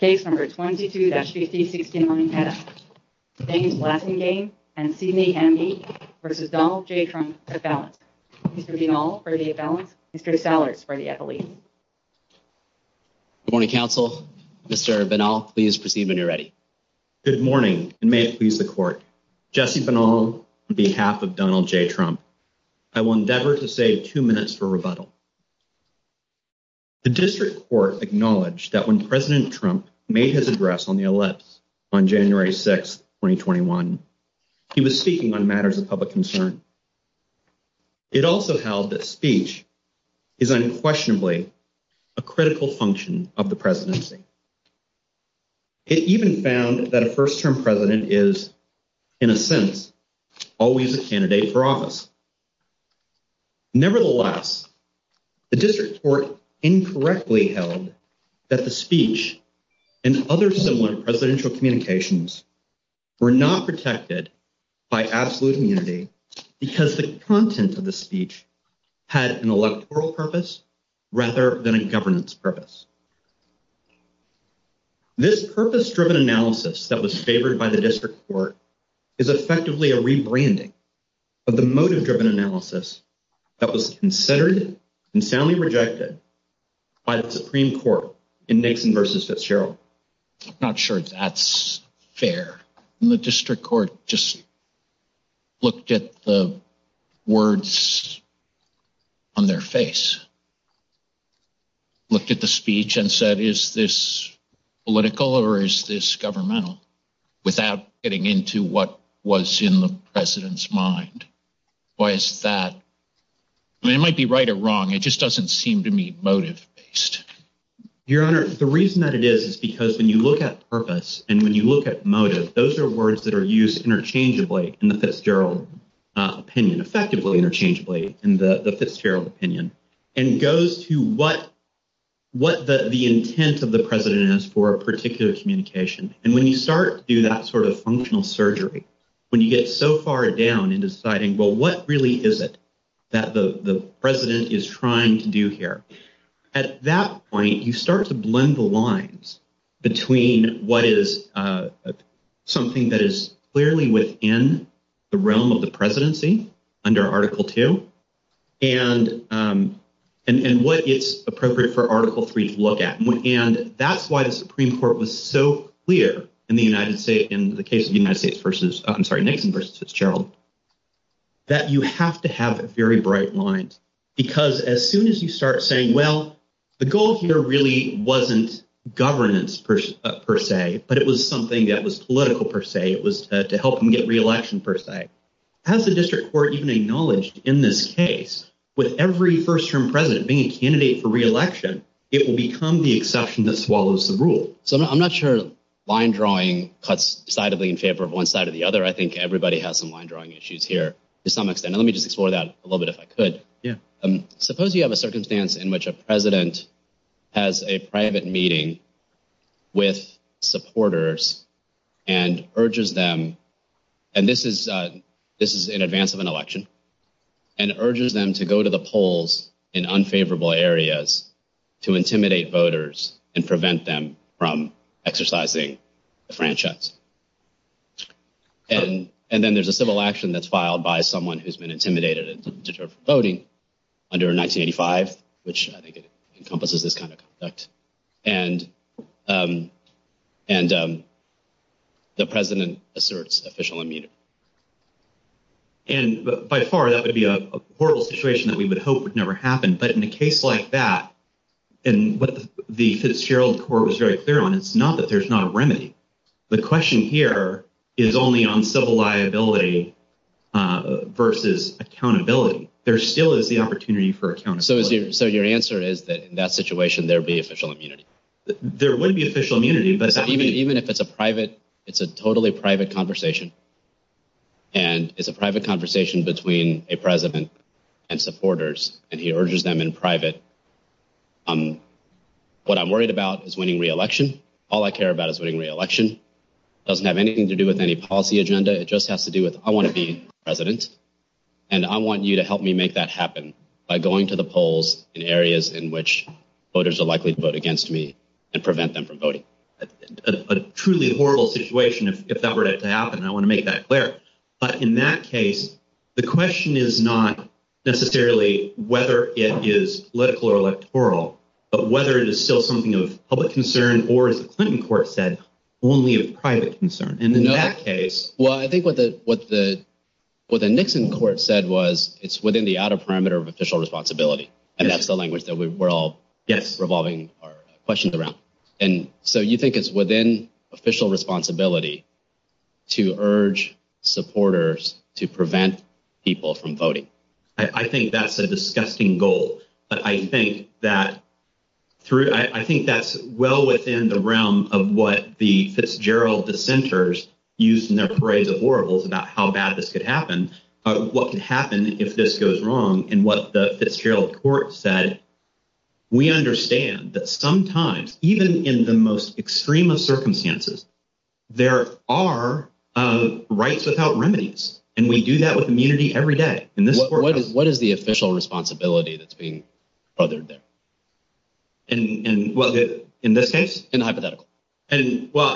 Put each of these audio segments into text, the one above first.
v. Donald J. Trump Good morning, Council. Mr. Binal, please proceed when you're ready. Good morning, and may it please the Court. Jesse Binal, on behalf of Donald J. Trump, I will endeavor to save two minutes for rebuttal. The District Court acknowledged that when President Trump made his address on the list on January 6, 2021, he was speaking on matters of public concern. It also held that speech is unquestionably a critical function of the presidency. It even found that a first-term president is, in a sense, always a candidate for office. Nevertheless, the District Court incorrectly held that the speech and other similar presidential communications were not protected by absolute immunity because the content of the speech had an electoral purpose rather than a governance purpose. This purpose-driven analysis that was favored by the District Court is effectively a rebranding of the motive-driven analysis that was considered and soundly rejected by the Supreme Court in Mason v. Fitzgerald. I'm not sure that's fair. The District Court just looked at the words on their face, looked at the speech, and said, is this political or is this governmental, without getting into what was in the president's mind. Why is that? It might be right or wrong. It just doesn't seem to me motive-based. Your Honor, the reason that it is is because when you look at purpose and when you look at motive, those are words that are used interchangeably in the Fitzgerald opinion, effectively interchangeably in the Fitzgerald opinion, and goes to what the intent of the president is for a particular communication. When you start to do that sort of functional surgery, when you get so far down in deciding, well, what really is it that the president is trying to do here? At that point, you start to blend the lines between what is something that is clearly within the realm of presidency under Article II and what is appropriate for Article III to look at. That's why the Supreme Court was so clear in the case of Mason v. Fitzgerald, that you have to have very bright lines because as soon as you start saying, well, the goal here really wasn't governance per se, but it was something that was political per se, it was to help him get re-election per se. Has the district court even acknowledged in this case with every first-term president being a candidate for re-election, it will become the exception that swallows the rule. I'm not sure line drawing cuts sidedly in favor of one side or the other. I think everybody has some line drawing issues here to some extent. Let me just explore that a little bit if I could. Suppose you have a circumstance in which a president has a private meeting with supporters and urges them, and this is in advance of an election, and urges them to go to the polls in unfavorable areas to intimidate voters and prevent them from exercising the franchise. And then there's a civil action that's filed by someone who's been intimidated voting under 1985, which I think encompasses this kind of effect. And the president asserts official immunity. And by far, that would be a horrible situation that we would hope would never happen. But in a case like that, and what the Fitzgerald court was very clear on, it's not that there's not a remedy. The question here is only on civil liability versus accountability. There still is the opportunity for accountability. So your answer is that in that situation, there'd be official immunity. There would be official immunity, but even if it's a private, it's a totally private conversation. And it's a private conversation between a president and supporters, and he urges them in private. What I'm worried about is winning re-election. All I care about is winning re-election. Doesn't have anything to do with any policy agenda. It just has to do with I want to be president. And I want you to help me make that happen by going to the polls in areas in which voters are likely to vote against me and prevent them from voting. A truly horrible situation if that were to happen. I want to make that clear. But in that case, the question is not necessarily whether it is political or electoral, but whether it is still something of public concern or as the Clinton court said, only a private concern. And in that case... Well, I think what the Nixon court said was it's within the outer parameter of official responsibility. And that's the language that we're all revolving our questions around. And so you think it's within official responsibility to urge supporters to prevent people from voting. I think that's a disgusting goal. But I think that's well within the realm of what the Fitzgerald dissenters used in their parade of horribles about how bad this could happen. What could happen if this goes wrong and what the Fitzgerald court said. We understand that sometimes, even in the most extremist circumstances, there are rights without remedies. And we do that with immunity every day. What is the official responsibility that's being uttered there? In this case? In the hypothetical. Oh,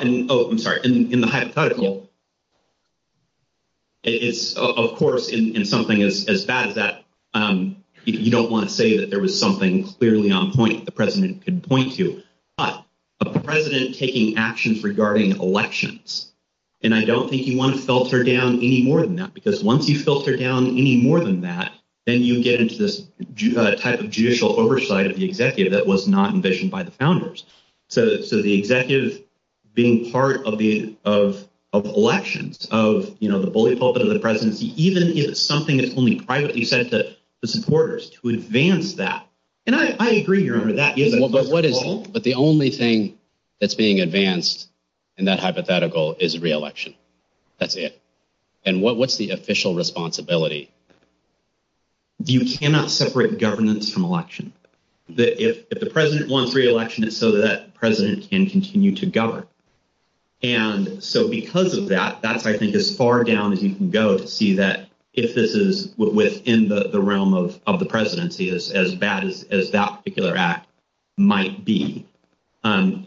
I'm sorry. In the hypothetical, it's, of course, in something as bad as that, you don't want to say that there was something clearly on point the president could point to. But the president taking actions regarding elections, and I don't think you want to filter down any more than that. Then you get into this type of judicial oversight of the executive that was not envisioned by the founders. So the executive being part of the elections of the bully pulpit of the presidency, even if it's something that's only privately said to the supporters to advance that. And I agree with that. But the only thing that's being advanced in that hypothetical is re-election. That's it. And what's the official responsibility? You cannot separate governance from election. If the president wants re-election, it's so that presidents can continue to govern. And so because of that, that's, I think, as far down as you can go to see that if this is within the realm of the presidency, as bad as that particular act might be. And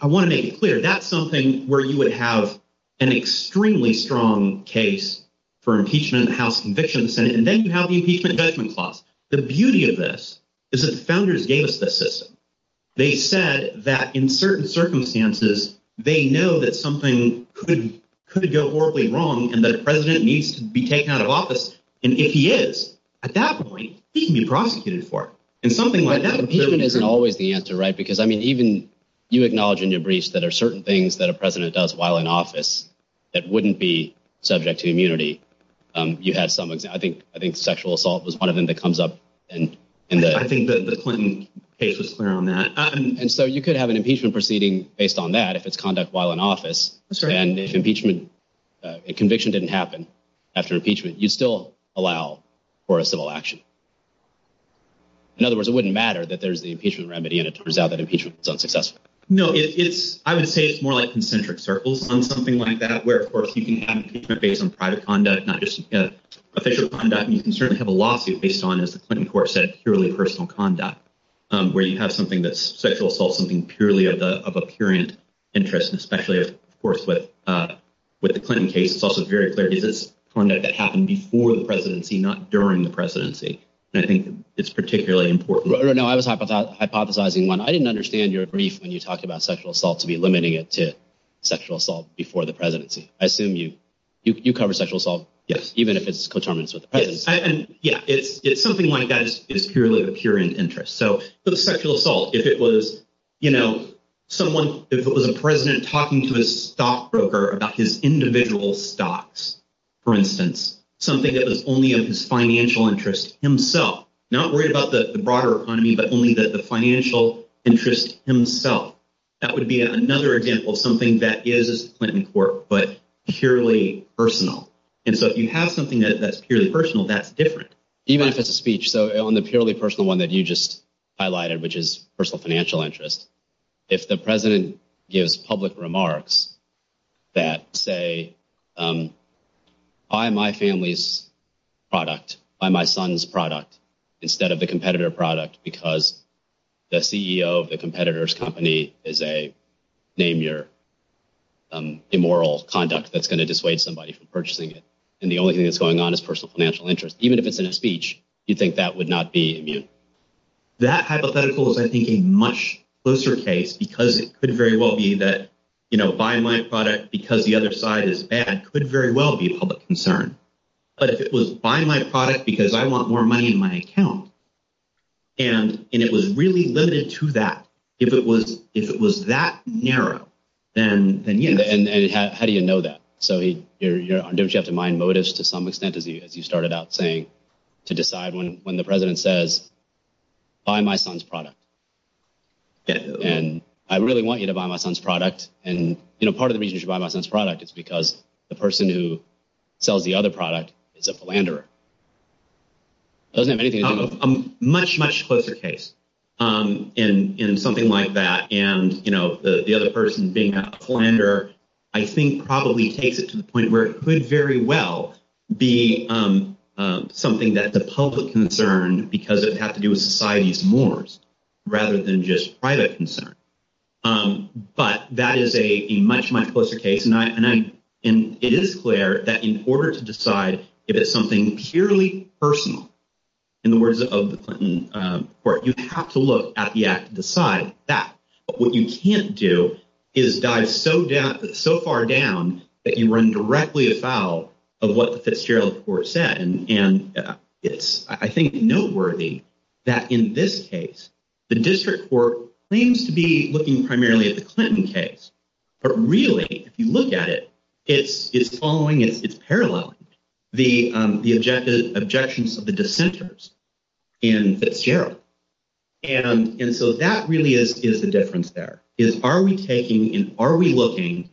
I want to make it clear, that's something where you would have an extremely strong case for impeachment and house conviction. And then you have the impeachment and judgment clause. The beauty of this is that the founders gave us this system. They said that in certain circumstances, they know that something could go horribly wrong and that the president needs to be taken out of office. And if he is, at that point, he can be prosecuted for it. But that impeachment isn't always the answer, right? Because, I mean, even you acknowledge in your briefs that there are certain things that a president does while in office that wouldn't be subject to immunity. You had some, I think sexual assault was one of them that comes up. I think the Clinton case was clear on that. And so you could have an impeachment proceeding based on that if it's conduct while in office. And if impeachment, if conviction didn't happen after impeachment, you still allow for a civil action. In other words, it wouldn't matter that there's the impeachment remedy and it turns out that impeachment was unsuccessful. No, I would say it's more like concentric circles on something like that, where, of course, you can have an impeachment based on private conduct, not just official conduct. And you can certainly have a lawsuit based on, as the Clinton court said, purely personal conduct, where you have something that's sexual assault, something purely of a purient interest, especially, of course, with the Clinton case. It's also very clear that it happened before the presidency, not during the presidency. And I think it's particularly important. No, I was talking about hypothesizing one. I didn't understand your brief when you talked about sexual assault to be limiting it to sexual assault before the presidency. I assume you cover sexual assault, even if it's coterminous with the presidency. Yeah. It's something like that. It's purely of a purient interest. So the sexual assault, if it was, you know, someone, if it was a president talking to a stockbroker about his individual stocks, for instance, something that was only of his financial interest himself, not worried about the broader economy, but only the financial interest himself, that would be another example of something that is a Clinton court, but purely personal. And so if you have something that's purely personal, that's different. Even if it's a speech, so on the purely personal one that you just highlighted, which is personal financial interest, you could say, buy my family's product, buy my son's product instead of the competitor product, because the CEO of the competitor's company is a, name your immoral conduct that's going to dissuade somebody from purchasing it. And the only thing that's going on is personal financial interest. Even if it's in a speech, you'd think that would not be immune. That hypothetical is, I think, a much closer case because it could very well be that, you know, buy my product because the other side is bad, could very well be a public concern. But if it was buy my product because I want more money in my account, and it was really limited to that, if it was that narrow, then yeah. And how do you know that? So don't you have to mind motives to some extent, as you started out saying, to decide when the president says, buy my son's product. And I really want you to buy my product. And, you know, part of the reason you should buy my son's product is because the person who sells the other product is a philanderer. It doesn't have anything to do with... A much, much closer case in something like that. And, you know, the other person being that philanderer, I think probably takes it to the point where it could very well be something that the public concern, because it has to do with society's mores, rather than just private concern. But that is a much, much closer case. And it is clear that in order to decide if it's something purely personal, in the words of the Clinton Court, you have to look at the act to decide that. But what you can't do is dive so far down that you run directly about of what the Fitzgerald Court said. And it's, I think, noteworthy that in this case, the district court claims to be looking primarily at the Clinton case. But really, if you look at it, it's following, it's paralleling the objections of the dissenters in Fitzgerald. And so that really is the difference there, is are we taking and are we looking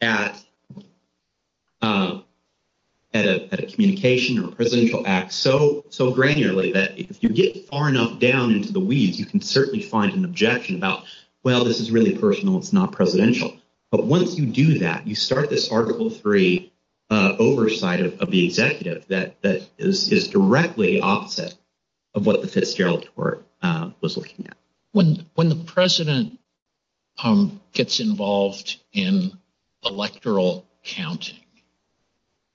at a communication or a an objection about, well, this is really personal, it's not presidential. But once you do that, you start this Article III oversight of the executive that is directly opposite of what the Fitzgerald Court was looking at. When the president gets involved in electoral counting,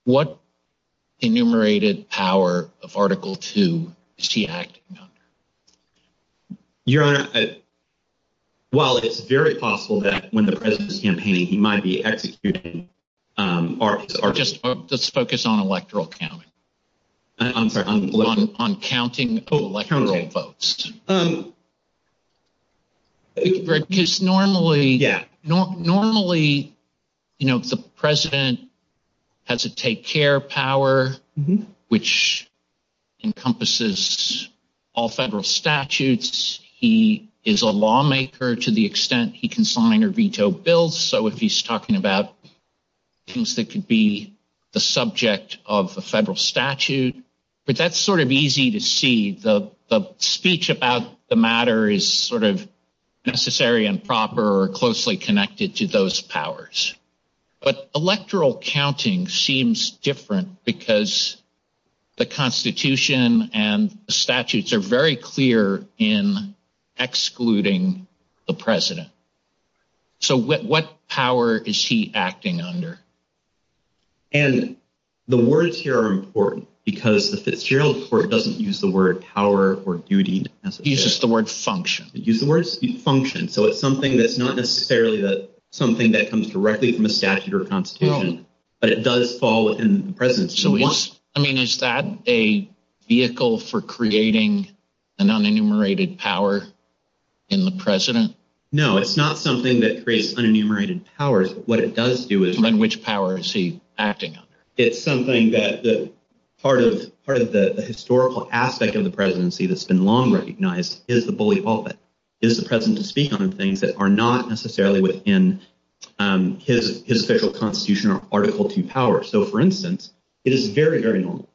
what enumerated power of Article II is he acting on? Your Honor, while it's very possible that when the president is campaigning, he might be executing, or just focus on electoral counting. I'm sorry, on what? You know, the president has to take care of power, which encompasses all federal statutes. He is a lawmaker to the extent he can sign or veto bills. So if he's talking about things that could be the subject of a federal statute, but that's sort of easy to see. The electoral counting seems different because the Constitution and the statutes are very clear in excluding the president. So what power is he acting under? And the words here are important because the Fitzgerald Court doesn't use the word power or duty. It uses the word function. It uses the word function. So it's something that's directly in the statute or Constitution, but it does fall within the presidency. I mean, is that a vehicle for creating an unenumerated power in the president? No, it's not something that creates unenumerated powers. What it does do is... Then which power is he acting on? It's something that part of the historical aspect of the presidency that's been long recognized is the bully pulpit, is the president speaking on things that are not necessarily within his federal Constitution or Article II power. So for instance, it is very, very normal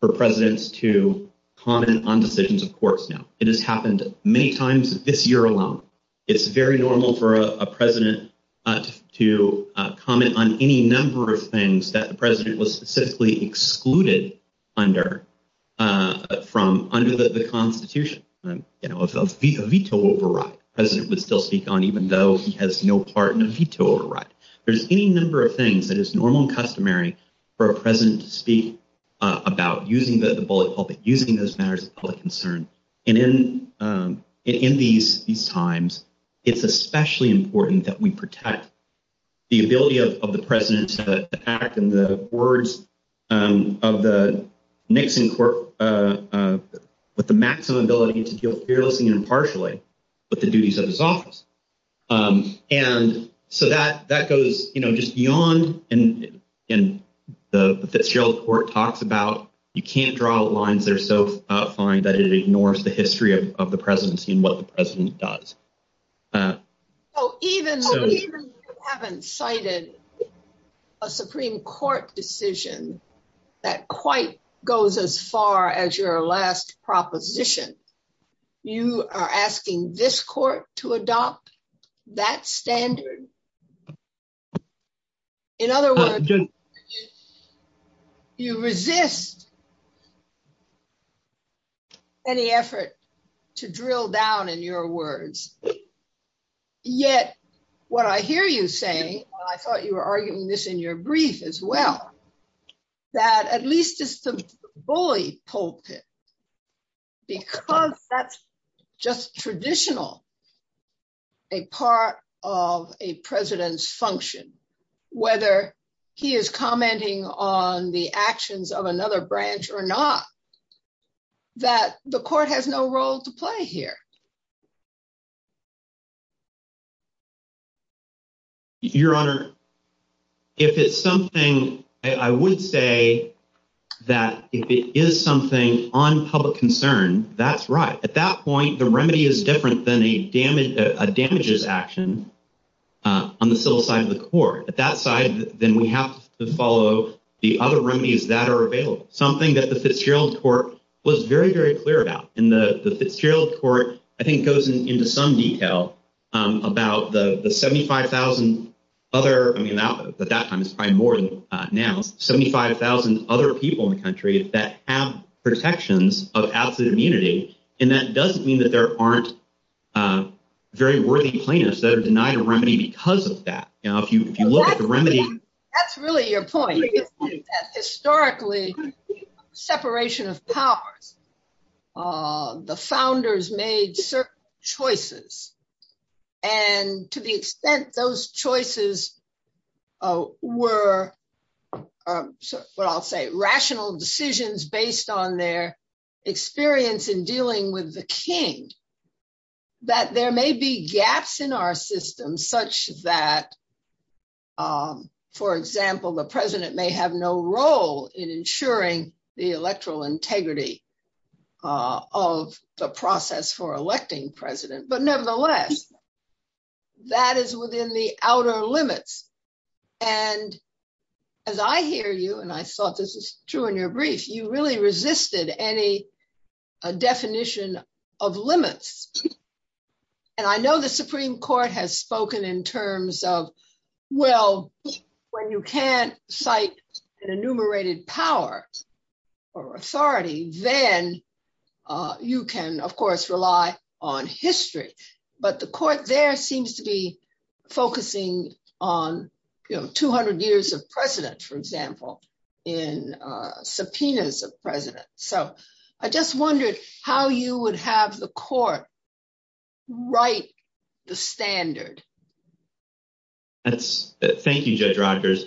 for presidents to comment on decisions of courts now. It has happened many times this year alone. It's very normal for a president to comment on any number of things that the president was specifically excluded from under the Constitution. A veto override, the president would still speak even though he has no part in a veto override. There's any number of things that is normal and customary for a president to speak about using the bully pulpit, using those matters of public concern. And in these times, it's especially important that we protect the ability of the president to act in the words of the Nixon court with the maximum ability to deal fearlessly and with the authority of his office. And so that goes just beyond... And the Fitzgerald Court talks about, you can't draw lines that are so fine that it ignores the history of the presidency and what the president does. So even if you haven't cited a Supreme Court decision that quite goes as far as your last proposition, you are asking this court to adopt that standard. In other words, you resist any effort to drill down in your words. Yet, what I hear you saying, I thought you were going to say, you're going to use the bully pulpit because that's just traditional, a part of a president's function, whether he is commenting on the actions of another branch or not, that the court has no role to play here. Your Honor, if it's something, I would say that if it is something on public concern, that's right. At that point, the remedy is different than a damages action on the civil side of the court. At that side, then we have to follow the other remedies that are available, something that the Fitzgerald Court was very, very clear about. In the Fitzgerald Court, I think it goes into some detail about the 75,000 other, at that time it's probably more now, 75,000 other people in the country that have protections of absolute immunity, and that doesn't mean that there aren't very worthy plaintiffs that are denied a remedy because of that. If you look at the remedy- That's really your point. Historically, separation of powers, the founders made certain choices, and to the extent those choices were, what I'll say, rational decisions based on their experience in dealing with the king, that there may be gaps in our system such that, for example, the president may have no role in ensuring the electoral integrity of the process for electing president, but nevertheless, that is within the outer limits. As I hear you, and I thought this was true in your brief, you really resisted any definition of limits. I know the Supreme Court has spoken in terms of, when you can't cite an enumerated power or authority, then you can, of course, rely on history, but the court there seems to be focusing on 200 years of precedence, for example, in subpoenas of presidents. I just wondered how you would have the court write the standard. Thank you, Judge Rogers.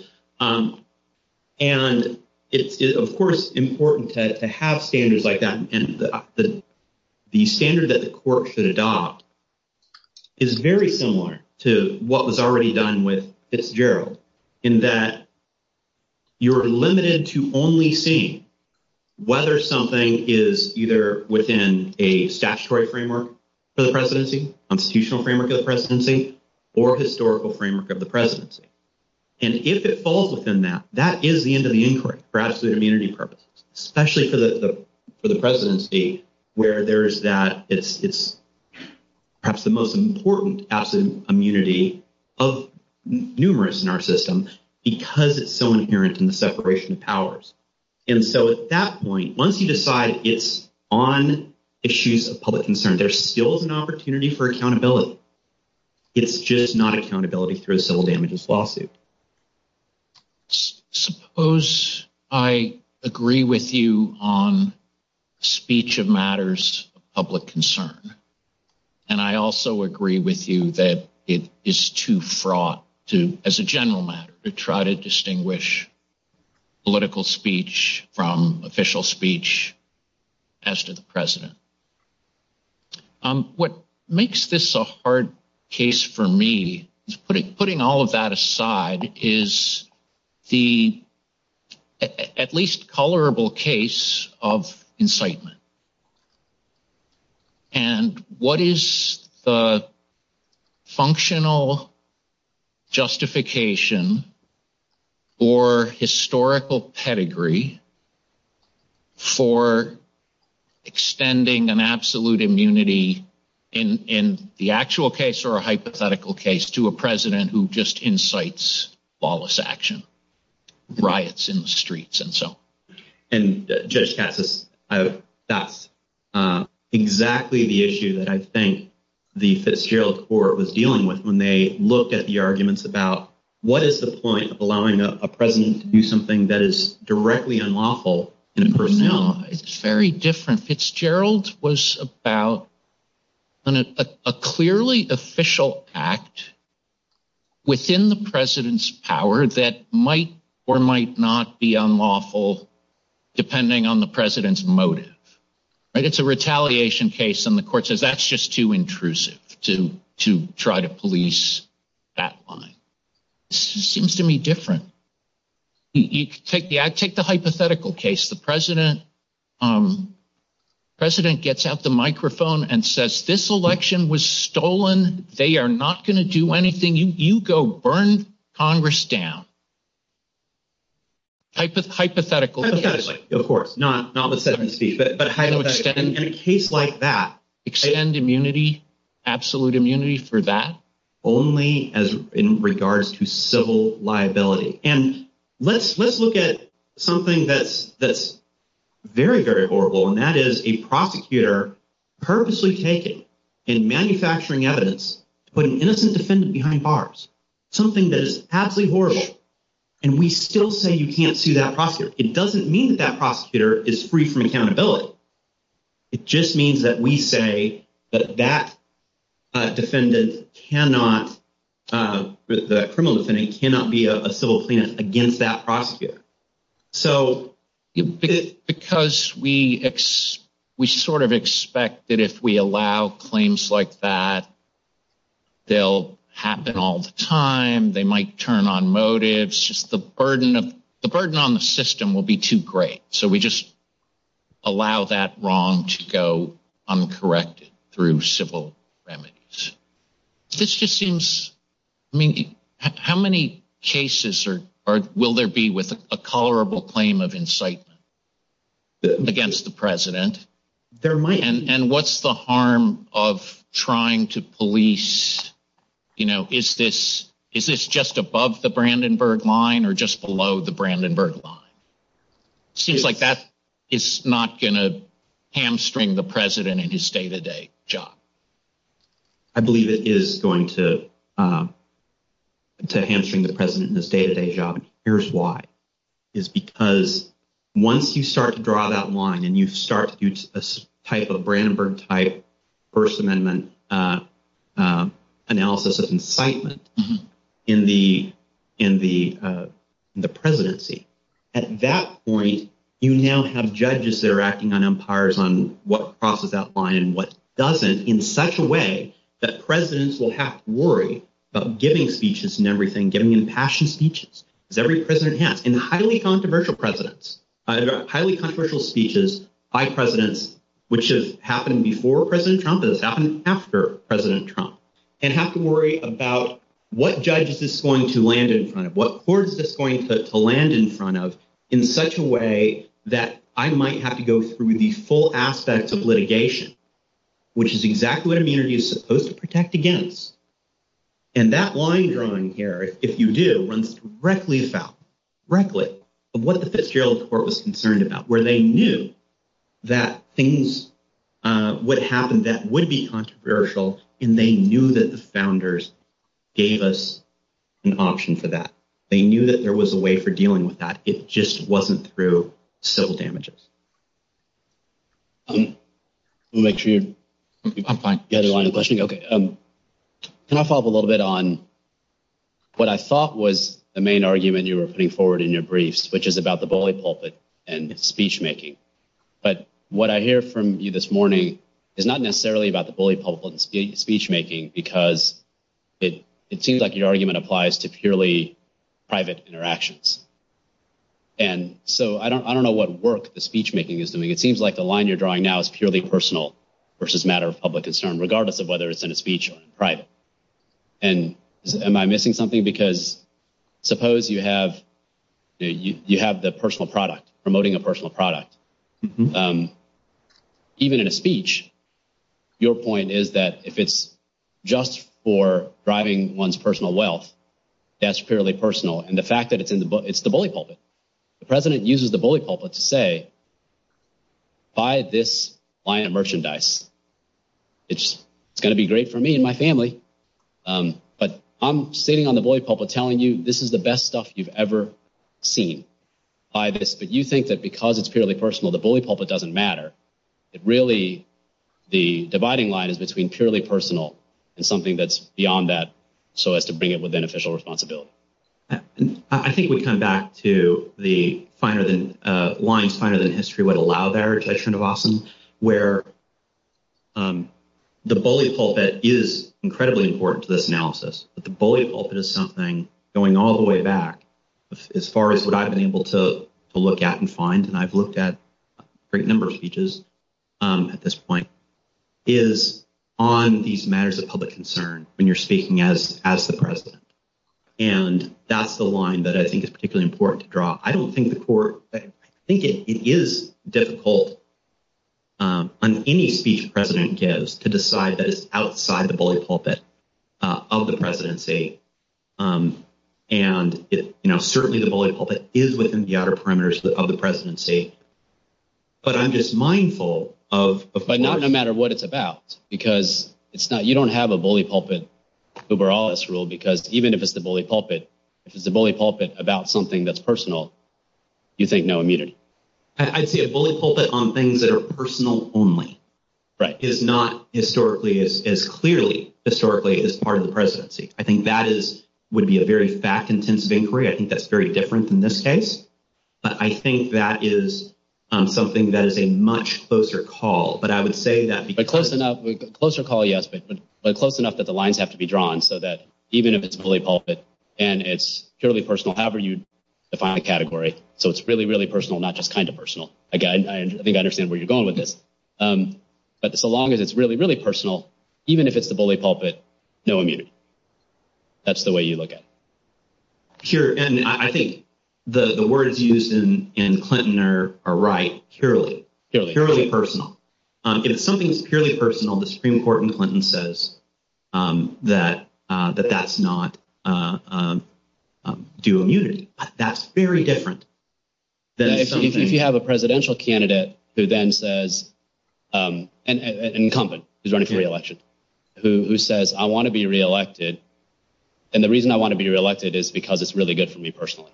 It is, of course, important to have standards like that. The standard that the court should adopt is very similar to what was already done with Fitzgerald, in that you're limited to only seeing whether something is either within a statutory framework for the presidency, a constitutional framework of the presidency, or a historical framework of the presidency. If it falls within that, that is the end of the inquiry for absolute immunity purposes, especially for the presidency, where it's perhaps the most important absolute immunity of numerous in our system because it's so inherent in the separation of powers. At that point, once you decide it's on issues of public concern, there's still an opportunity for accountability. It's just not accountability through a civil damages lawsuit. Suppose I agree with you on speech of matters of public concern, and I also agree with you that it is too fraught to, as a general matter, to try to distinguish political speech from official speech as to the president. What makes this a hard case for me, putting all of that aside, is the at least colorable case of incitement. And what is the functional justification or historical pedigree for extending an absolute immunity in the actual case or a hypothetical case to a president who just incites lawless action, riots in the streets, and so on? Judge Katz, that's exactly the issue that I think the Fitzgerald Court was dealing with when they look at the arguments about what is the point of allowing a president to do something that is directly unlawful in person. No, it's very different. Fitzgerald was about a clearly official act within the president's power that might or might not be unlawful depending on the president's motive. It's a retaliation case, and the court says that's just too intrusive to try to police that line. It seems to me different. Take the hypothetical case. The president gets out the microphone and says, this election was stolen. They are not going to do anything. You go burn Congress down. Hypothetical. Hypothetical, of course. Not the second speech, but hypothetical. In a case like that, extend immunity, absolute immunity for that only as in regards to civil liability. And let's look at something that's very, very horrible, and that is a prosecutor purposely taking and manufacturing evidence to put an innocent defendant behind bars, something that is absolutely horrible. And we still say you can't sue that prosecutor. It doesn't mean that prosecutor is free from accountability. It just means that we say that that defendant cannot, criminal defendant, cannot be a civil plaintiff against that prosecutor. So because we sort of expect that if we allow claims like that, they'll happen all the time. They might turn on motives. The burden on the system will be too great. So we just allow that wrong to go uncorrected through civil remedies. This just seems, I mean, how many cases will there be with a colorable claim of incitement against the you know, is this just above the Brandenburg line or just below the Brandenburg line? Seems like that is not going to hamstring the president in his day-to-day job. I believe it is going to hamstring the president in his day-to-day job. Here's why. Is because once you start to draw that line and you start a type of Brandenburg type First Analysis of incitement in the presidency, at that point, you now have judges that are acting on umpires on what crosses that line and what doesn't in such a way that presidents will have to worry about giving speeches and everything, giving impassioned speeches, because every president has. And highly controversial presidents, highly controversial speeches by presidents, which has happened before President Trump, has happened after President Trump, and have to worry about what judge is this going to land in front of, what court is this going to land in front of in such a way that I might have to go through the full aspects of litigation, which is exactly what immunity is supposed to protect against. And that line drawing here, if you do, runs directly about, frankly, what the fifth year of the court was concerned about, where they knew that things would happen that would be controversial, and they knew that the founders gave us an option for that. They knew that there was a way for dealing with that. It just wasn't through civil damages. We'll make sure I find the other line of questioning. Okay. Can I follow up a little bit on what I thought was the main argument you were putting forward in your briefs, which is about the bully pulpit and speechmaking. But what I hear from you this morning is not necessarily about the bully pulpit and speechmaking, because it seems like your argument applies to purely private interactions. And so I don't know what work the speechmaking is doing. It seems like the line you're drawing now is purely personal versus matter of public concern, regardless of whether it's in a speech or in private. And am I missing something? Because suppose you have the personal product, promoting a personal product. Even in a speech, your point is that if it's just for driving one's personal wealth, that's purely personal. And the fact that it's in the book, it's the bully pulpit. The president uses the bully pulpit to say, buy this client merchandise. It's going to be great for me and my family. But I'm sitting on the bully pulpit telling you this is the best stuff you've ever seen. But you think that because it's purely personal, the bully pulpit doesn't matter. It really, the dividing line is between purely personal and something that's beyond that, so as to bring it with beneficial responsibility. I think we come back to the lines finer than history would allow there, which I think is awesome, where the bully pulpit is incredibly important to this analysis. But the bully pulpit is something going all the way back, as far as what I've been able to look at and find, and I've looked at a great number of speeches at this point, is on these matters of public concern when you're speaking as the president. And that's the line that I think is particularly important to draw. I don't think the court, I think it is difficult on any speech president gives to decide that it's outside the bully pulpit of the presidency. And certainly the bully pulpit is within the outer parameters of the presidency. But I'm just mindful of- But not no matter what it's about, because you don't have a bully pulpit over all this rule, because even if it's a bully pulpit, if it's a bully pulpit about something that's personal, you think no immunity. I'd say a bully pulpit on things that are personal only is not historically as clearly, historically, as part of the presidency. I think that would be a very fact-intensive inquiry. I think that's very different in this case. But I think that is something that is a much closer call. But I would say that- But close enough, closer call, yes, but close enough that the and it's purely personal, however you define the category. So it's really, really personal, not just kind of personal. Again, I think I understand where you're going with this. But so long as it's really, really personal, even if it's the bully pulpit, no immunity. That's the way you look at it. Sure. And I think the word is used in Clinton are right, purely, purely personal. If something's purely personal, the Supreme Court in Clinton says that that's not due immunity. That's very different. If you have a presidential candidate who then says, an incumbent who's running for re-election, who says, I want to be re-elected. And the reason I want to be re-elected is because it's really good for me personally.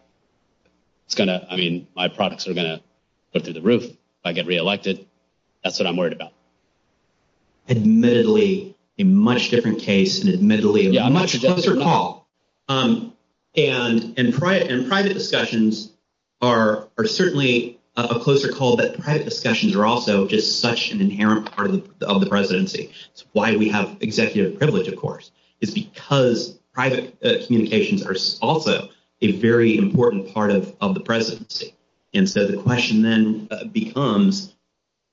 It's going to, I mean, my products are going to go through the roof. If I get re-elected, that's what I'm worried about. Admittedly, a much different case and admittedly a much closer call. And private discussions are certainly a closer call, but private discussions are also just such an inherent part of the presidency. That's why we have executive privilege, of course, is because private communications are also a very important part of the presidency. And so the question then becomes,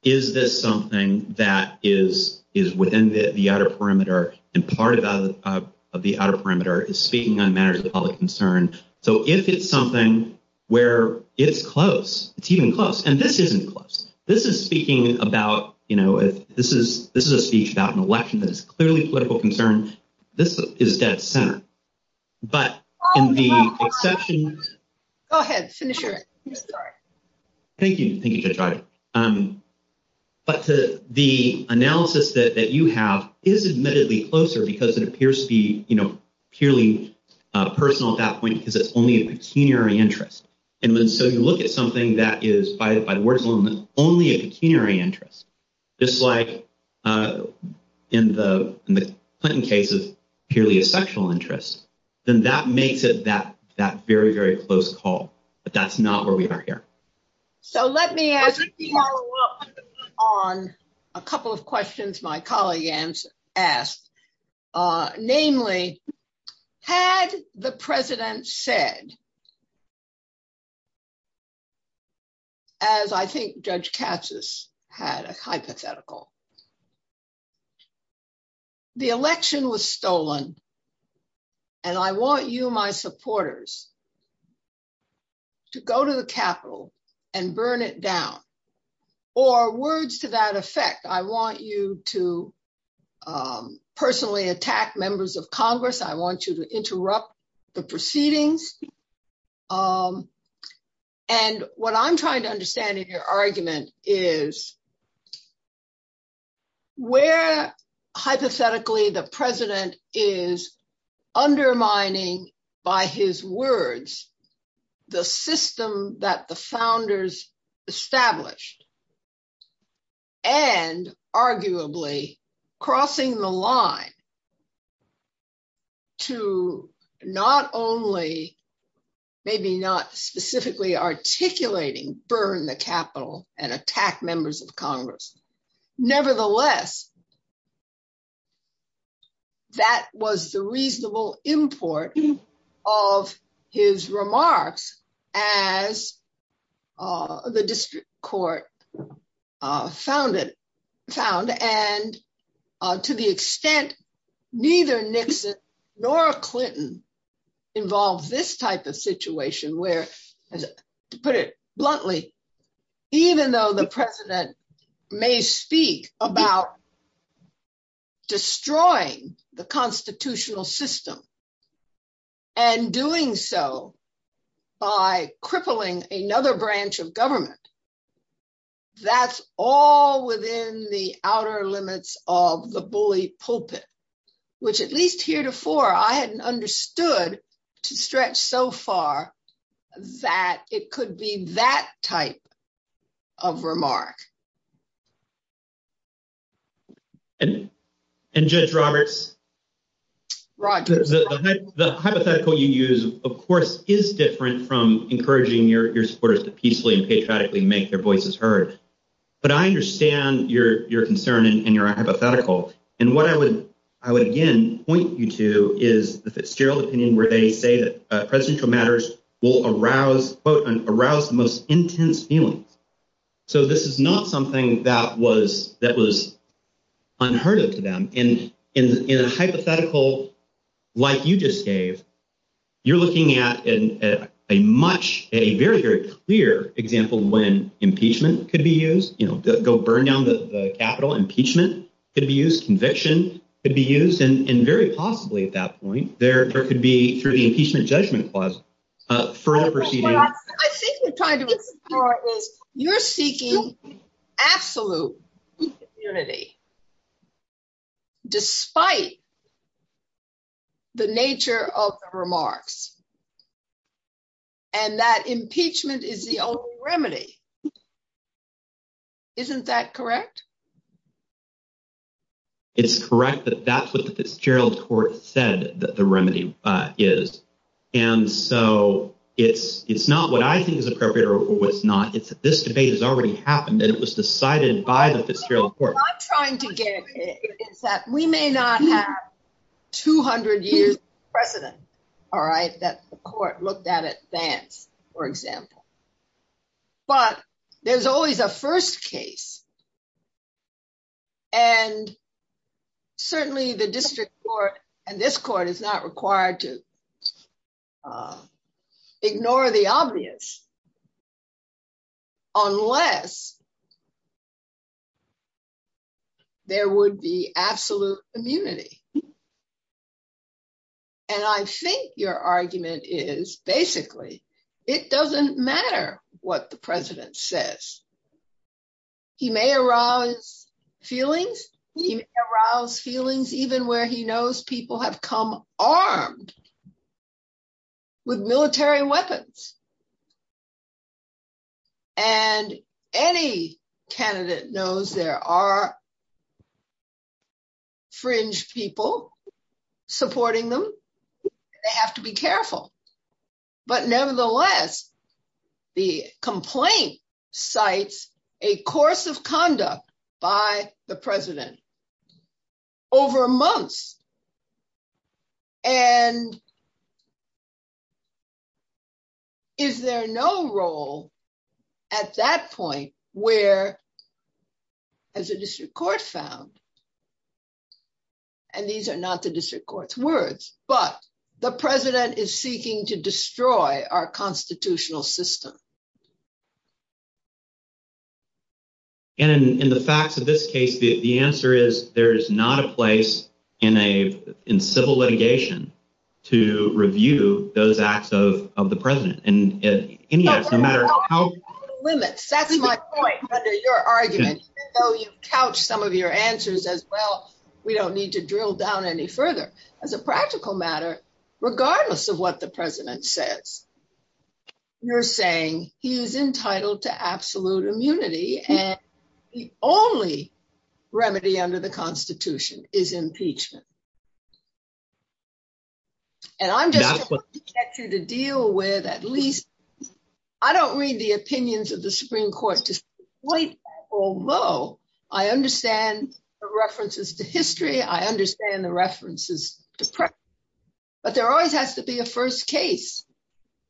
is this something that is within the outer perimeter and part of the outer perimeter is speaking on matters of public concern. So if it's something where it's close, it's even close, and this isn't close. This is speaking about, you know, this is a speech about an election that's clearly political concern. This is dead center. But in the exception... Go ahead. Finish your... Thank you. Thank you, Judge Rodgers. But the analysis that you have is admittedly closer because it appears to be, you know, purely personal at that point because it's only a pecuniary interest. And then so you look at something that is, by the words alone, only a pecuniary interest, just like in the Clinton case of purely a sexual interest, then that makes it that very, very close call. But that's not where we are here. So let me ask you to follow up on a couple of questions my colleague asked, namely, had the president said, as I think Judge Katsas had a hypothetical, the election was stolen and I want you, my supporters, to go to the Capitol and burn it down, or words to that effect, I want you to personally attack members of Congress. I want you to interrupt the proceedings. And what I'm trying to understand in your argument is where hypothetically the president is undermining by his words, the system that the founders established, and arguably crossing the line to not only, maybe not specifically articulating, burn the Capitol and attack members of Congress. Nevertheless, that was the reasonable import of his remarks as the district court found. And to the extent neither Nixon nor Clinton involved this type of situation where, to put it bluntly, even though the president may speak about destroying the constitutional system and doing so by crippling another branch of government, that's all within the outer limits of the bully pulpit, which at least heretofore I hadn't understood to stretch so far that it could be that type of remark. And Judge Roberts, the hypothetical you use, of course, is different from encouraging your supporters to peacefully and patriotically make their voices heard. But I understand your concern and your hypothetical. And what I would, again, point you to is the Fitzgerald opinion where they say that presidential matters will arouse, quote, arouse the most intense feeling. So this is not something that was unheard of to them. And in a hypothetical like you just gave, you're looking at a much, a very, very clear example when impeachment could be used, go burn down the Capitol. Impeachment could be used. Conviction could be used. And very possibly at that point, there could be, through the Impeachment Judgment Clause, further proceedings. I think you're trying to get to the part where you're seeking absolute unity despite the nature of the remarks. And that impeachment is the only remedy. Isn't that correct? It's correct that that's what the Fitzgerald court said that the remedy is. And so it's not what I think is appropriate or what's not. It's that this debate has already happened and it was decided by the Fitzgerald court. What I'm trying to get at is that we may not have 200 years precedent, all right, that the court looked at it then, for example. But there's always a first case. And certainly the district court and this court is not required to ignore the obvious unless there would be absolute immunity. And I think your argument is basically, it doesn't matter what the president says. He may arouse feelings. He arouses feelings even where he knows people have come armed with military weapons. And any candidate knows there are fringe people supporting them. They have to be careful. But nevertheless, the complaint cites a course of conduct by the president over a month. And is there no role at that point where, as the district court found, and these are not the district court's words, but the president is seeking to destroy our constitutional system. And in the facts of this case, the answer is there is not a place in civil litigation to review those acts of the president. And as any matter of how- That's the limit. That's my point under your argument. Even though you couch some of your answers as well, we don't need to drill down any further. As a practical matter, regardless of what the president says, you're saying he is entitled to absolute immunity and the only remedy under the constitution is impeachment. And I'm just trying to get you to deal with at least, I don't read the opinions of the Supreme Court to the point that although I understand the references to history, I understand the references to president. But there always has to be a first case.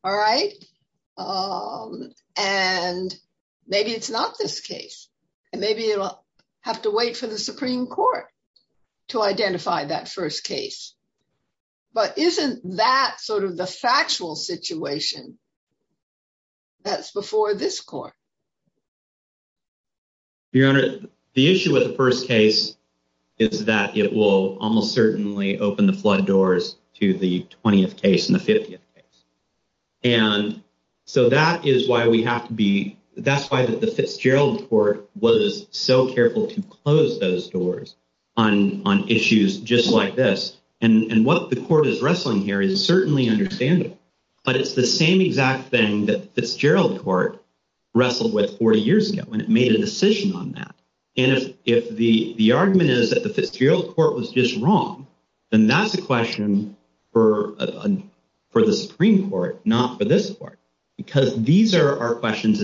All right? And maybe it's not this case. And maybe it'll have to wait for the Supreme Court to identify that first case. But isn't that sort of the factual situation that's before this court? Your Honor, the issue with the first case is that it will almost certainly open the flood doors to the 20th case and the 50th case. And so that is why we have to be, that's why the Fitzgerald Court was so careful to close those doors on issues just like this. And what the court is wrestling here is certainly understandable. But it's the same exact thing that the Fitzgerald Court wrestled with four years ago when it made a decision on that. And if the argument is that the Fitzgerald Court was just wrong, then that's a question for the Supreme Court, not for this court. Because these are questions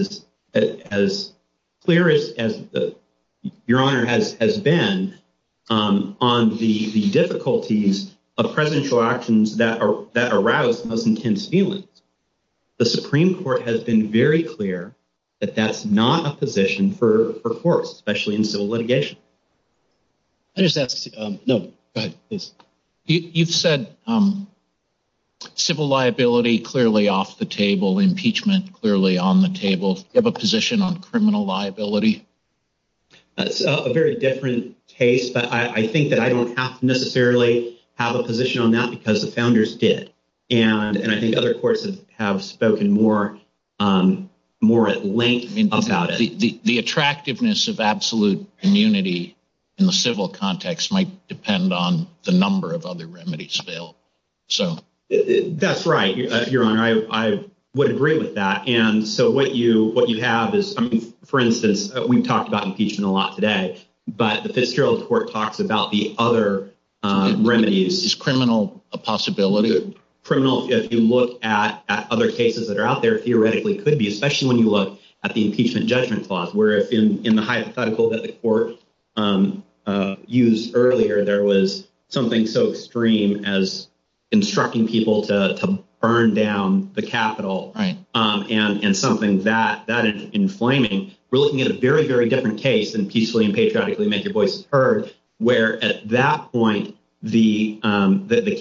as clear as Your Honor has been on the difficulties of presidential actions that arouse those intense feelings. The Supreme Court has been very clear that that's not a position for courts, especially in civil litigation. I just asked, no, go ahead, please. You've said civil liability clearly off the table, impeachment clearly on the table. Do you have a position on criminal liability? That's a very different case, but I think that I don't have to necessarily have a position on that because the founders did. And I think other courts have spoken more at length about it. The attractiveness of absolute immunity in the civil context might depend on the number of other remedies failed. That's right, Your Honor. I would agree with that. And so what you have is, for instance, we've talked about impeachment a lot today, but the Fitzgerald Court talks about the other remedies. Is criminal a possibility? Criminal, if you look at other cases that are out there, theoretically could be, especially when you look at the impeachment judgment clause, where in the hypothetical that the court used earlier, there was something so extreme as instructing people to burn down the Capitol and something that is inflaming. We're looking at a very, very different case in Peacely and Patriotically Make Your Voice Heard, where at that point, the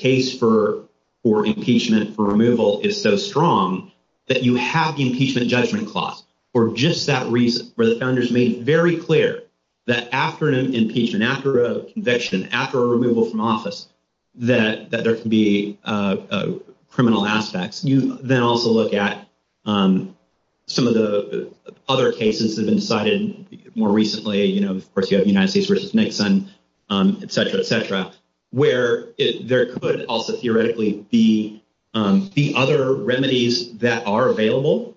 case for impeachment for removal is so strong that you have the impeachment judgment clause for just that reason, for the founders being very clear that after an impeachment, after a conviction, after a removal from office, that there can be criminal aspects. You then also look at some of the other cases that have been cited more recently. Of course, you have the United States v. Nixon, et cetera, et cetera, where there could also theoretically be the other remedies that are available.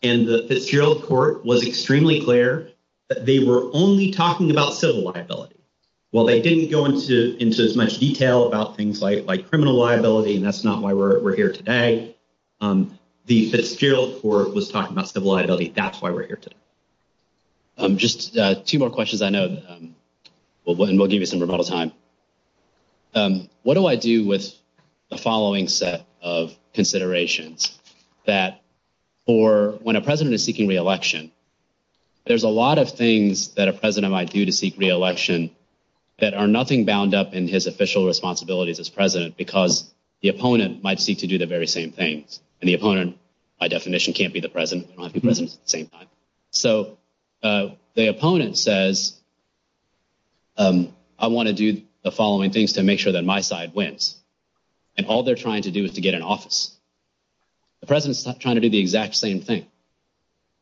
And the Fitzgerald Court was extremely clear that they were only talking about civil liability. While they didn't go into as much detail about criminal liability, and that's not why we're here today, the Fitzgerald Court was talking about civil liability. That's why we're here today. Just two more questions I know, and we'll give you some rebuttal time. What do I do with the following set of considerations? That for when a president is seeking re-election, there's a lot of things that a president might do to seek re-election that are nothing bound up in his official responsibilities as president, because the opponent might seek to do the very same thing. And the opponent, by definition, can't be the president. So, the opponent says, I want to do the following things to make sure that my side wins. And all they're trying to do is to get an office. The president's trying to do the exact same thing.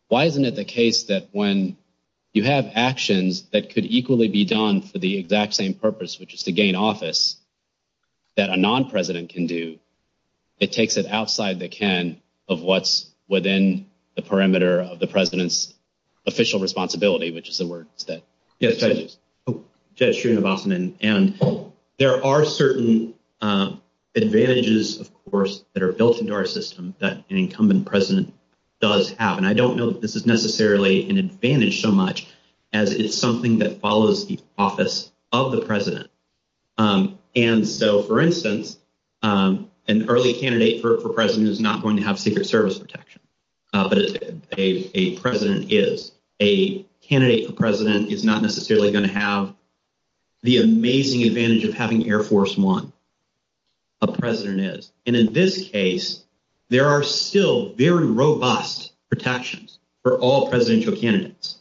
Why isn't it the case that when you have actions that could equally be done for the exact same purpose, which is to gain office, that a non-president can do, it takes it outside the can of what's within the perimeter of the president's official responsibility, which is the word. Yes, go ahead. Jeff Shreen, Wasserman. And there are certain advantages, of course, that are built into our advantage so much as it's something that follows the office of the president. And so, for instance, an early candidate for president is not going to have secret service protection. But if a president is, a candidate for president is not necessarily going to have the amazing advantage of having Air Force One. A president is. And in this case, there are still very robust protections for all presidential candidates.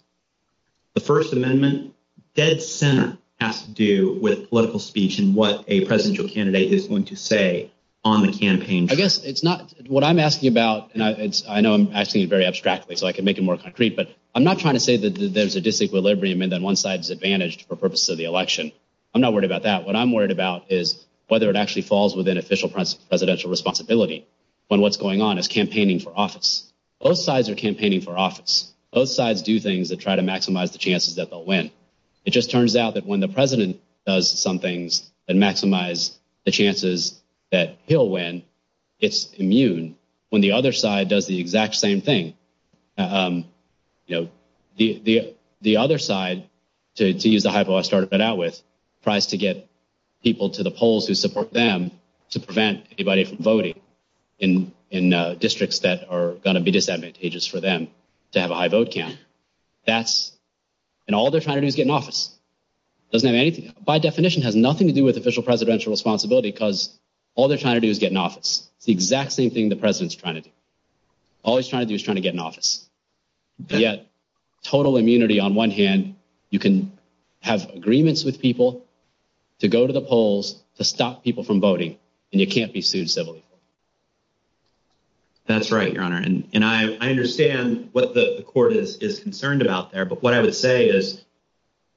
The First Amendment dead center has to do with political speech and what a presidential candidate is going to say on the campaign. I guess it's not what I'm asking about. And I know I'm asking you very abstractly, so I can make it more concrete. But I'm not trying to say that there's a disequilibrium and that one side is advantaged for purposes of the election. I'm not worried about that. What I'm worried about is whether it actually falls within official presidential responsibility when what's going on is campaigning for office. Both sides are campaigning for office. Both sides do things that try to maximize the chances that they'll win. It just turns out that when the president does some things that maximize the chances that he'll win, it's immune when the other side does the exact same thing. The other side, to use the hypo I started out with, tries to get people to the polls who support them to prevent anybody from voting in districts that are going to be disadvantageous for them to have a high vote count. And all they're trying to do is get in office. It doesn't have anything, by definition, has nothing to do with official presidential responsibility because all they're trying to do is get in office. The exact same thing the president's trying to do. All he's trying to do is trying to get in office. Yet total immunity on one hand, you can have agreements with people to go to the polls to stop people from voting, and you can't be sued civilly. That's right, your honor. And I understand what the court is concerned about there, but what I would say is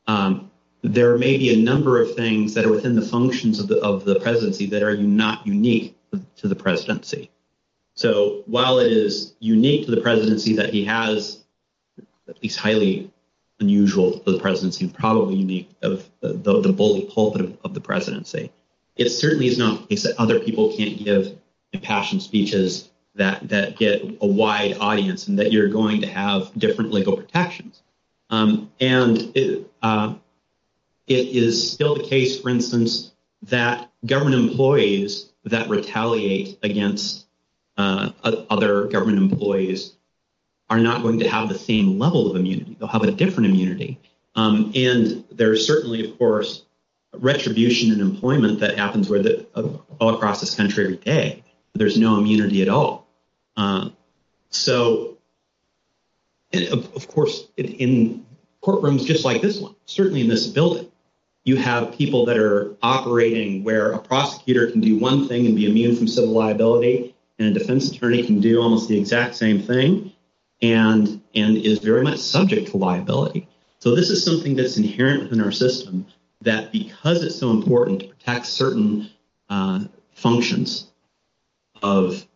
there may be a number of things that are within the functions of the presidency that are not unique to the presidency. So while it is unique to the presidency that he has, at least highly unusual to the presidency, probably unique of the bold pulpit of the presidency, it certainly is not a case that other people can't give impassioned speeches that get a wide audience and that you're going to have different legal protections. And it is still the case, for instance, that government employees that retaliate against other government employees are not going to have the same level of immunity. They'll have a different immunity. And there's certainly, of course, retribution and employment that happens all across the country today. There's no immunity at all. And of course, in courtrooms just like this one, certainly in this building, you have people that are operating where a prosecutor can do one thing and be immune from civil liability and a defense attorney can do almost the exact same thing and is very much subject to liability. So this is something that's inherent in our system that because it's so important to protect certain functions of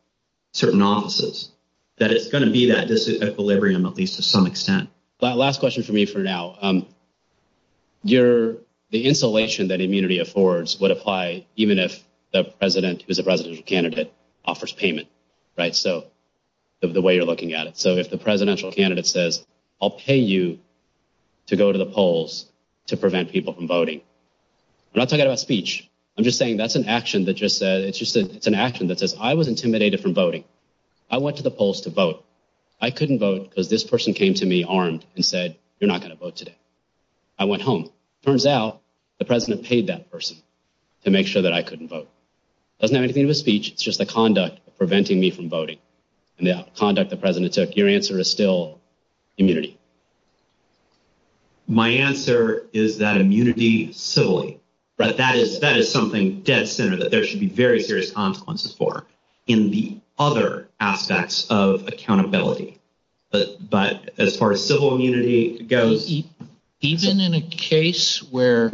certain offices, that it's going to be that disequilibrium at least to some extent. But last question for me for now. The insulation that immunity affords would apply even if the president who's a presidential candidate offers payment, right? So the way you're looking at it. So if the presidential candidate says, I'll pay you to go to the polls to prevent people from voting. I'm not talking about speech. I'm just saying that's an action that just says, it's just an action that says, I was intimidated from voting. I went to the polls to vote. I couldn't vote because this person came to me armed and said, you're not going to vote today. I went home. It turns out the president paid that person to make sure that I couldn't vote. Doesn't have anything to do with speech. It's just the conduct preventing me from voting and the conduct the president took. Your answer is still immunity. My answer is that immunity civilly, right? That is something that there should be very serious consequences for in the other aspects of accountability. But as far as civil immunity goes, even in a case where,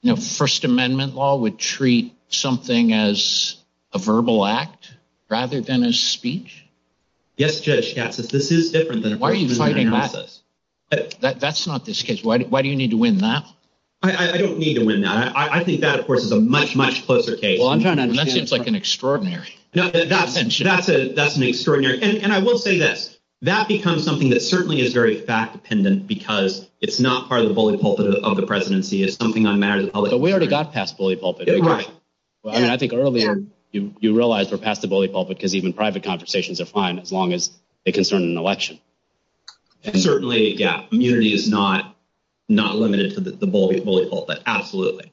you know, first amendment law would treat something as a verbal act rather than a speech. Yes, yes, yes. This is different than that. That's not this case. Why do you need to win that? I don't need to win that. I think that, of course, is a much, much closer case. Well, I'm going to admit it's like an extraordinary. That's an extraordinary. And I will say that that becomes something that certainly is very fact-dependent because it's not part of the bully pulpit of the presidency. It's something that matters. But we already got past the bully pulpit. I think earlier you realized we're past the bully pulpit because even private conversations are fine as long as they concern an election. And certainly, yeah, immunity is not limited to the bully pulpit. Absolutely.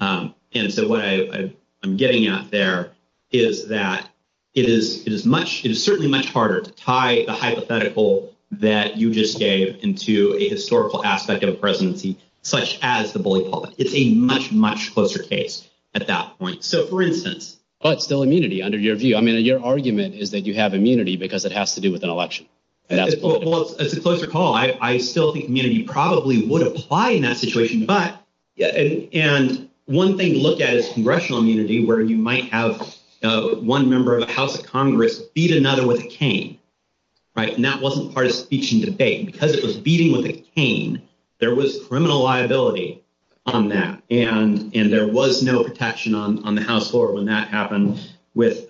And so what I'm getting at there is that it is certainly much harder to tie the hypothetical that you just gave into a historical aspect of the presidency, such as the bully pulpit. It's a much, much closer case at that point. So, for instance. But still immunity under your view. I mean, your argument is that you have immunity because it has to do with an election. Well, it's a closer call. I still think immunity probably would apply in that situation. And one thing to look at is congressional immunity where you might have one member of the House of Congress beat another with a cane. Right? And that wasn't part of the speech and debate. Because it was beating with a cane, there was criminal liability on that. And there was no protection on the House floor when that happened with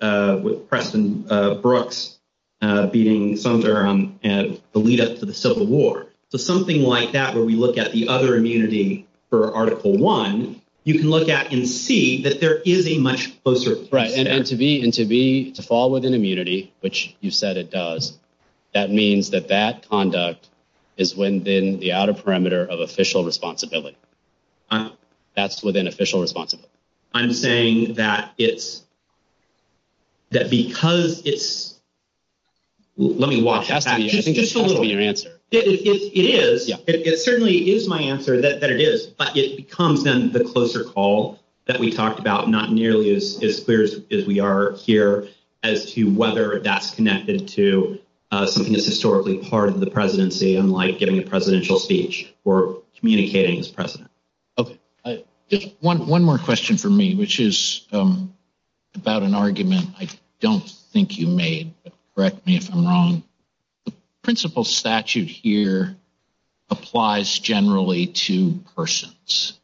Preston Brooks beating Sondra and Alita for the Civil War. So something like that where we look at the other immunity for Article I, you can look at and see that there is a much closer. Right. And to be, to fall within immunity, which you said it does, that means that that conduct is within the outer perimeter of official responsibility. That's within official responsibility. I'm saying that it's, that because it's, let me watch that back. It's totally your answer. It is. It certainly is my answer that it is, but it becomes then the closer call that we talked about, not nearly as clear as we are here as to whether that's connected to something that's historically part of the presidency, unlike getting a presidential speech or communicating as president. Okay. One more question for me, which is about an argument. I don't think you may correct me if I'm wrong. The principle statute here applies generally to persons.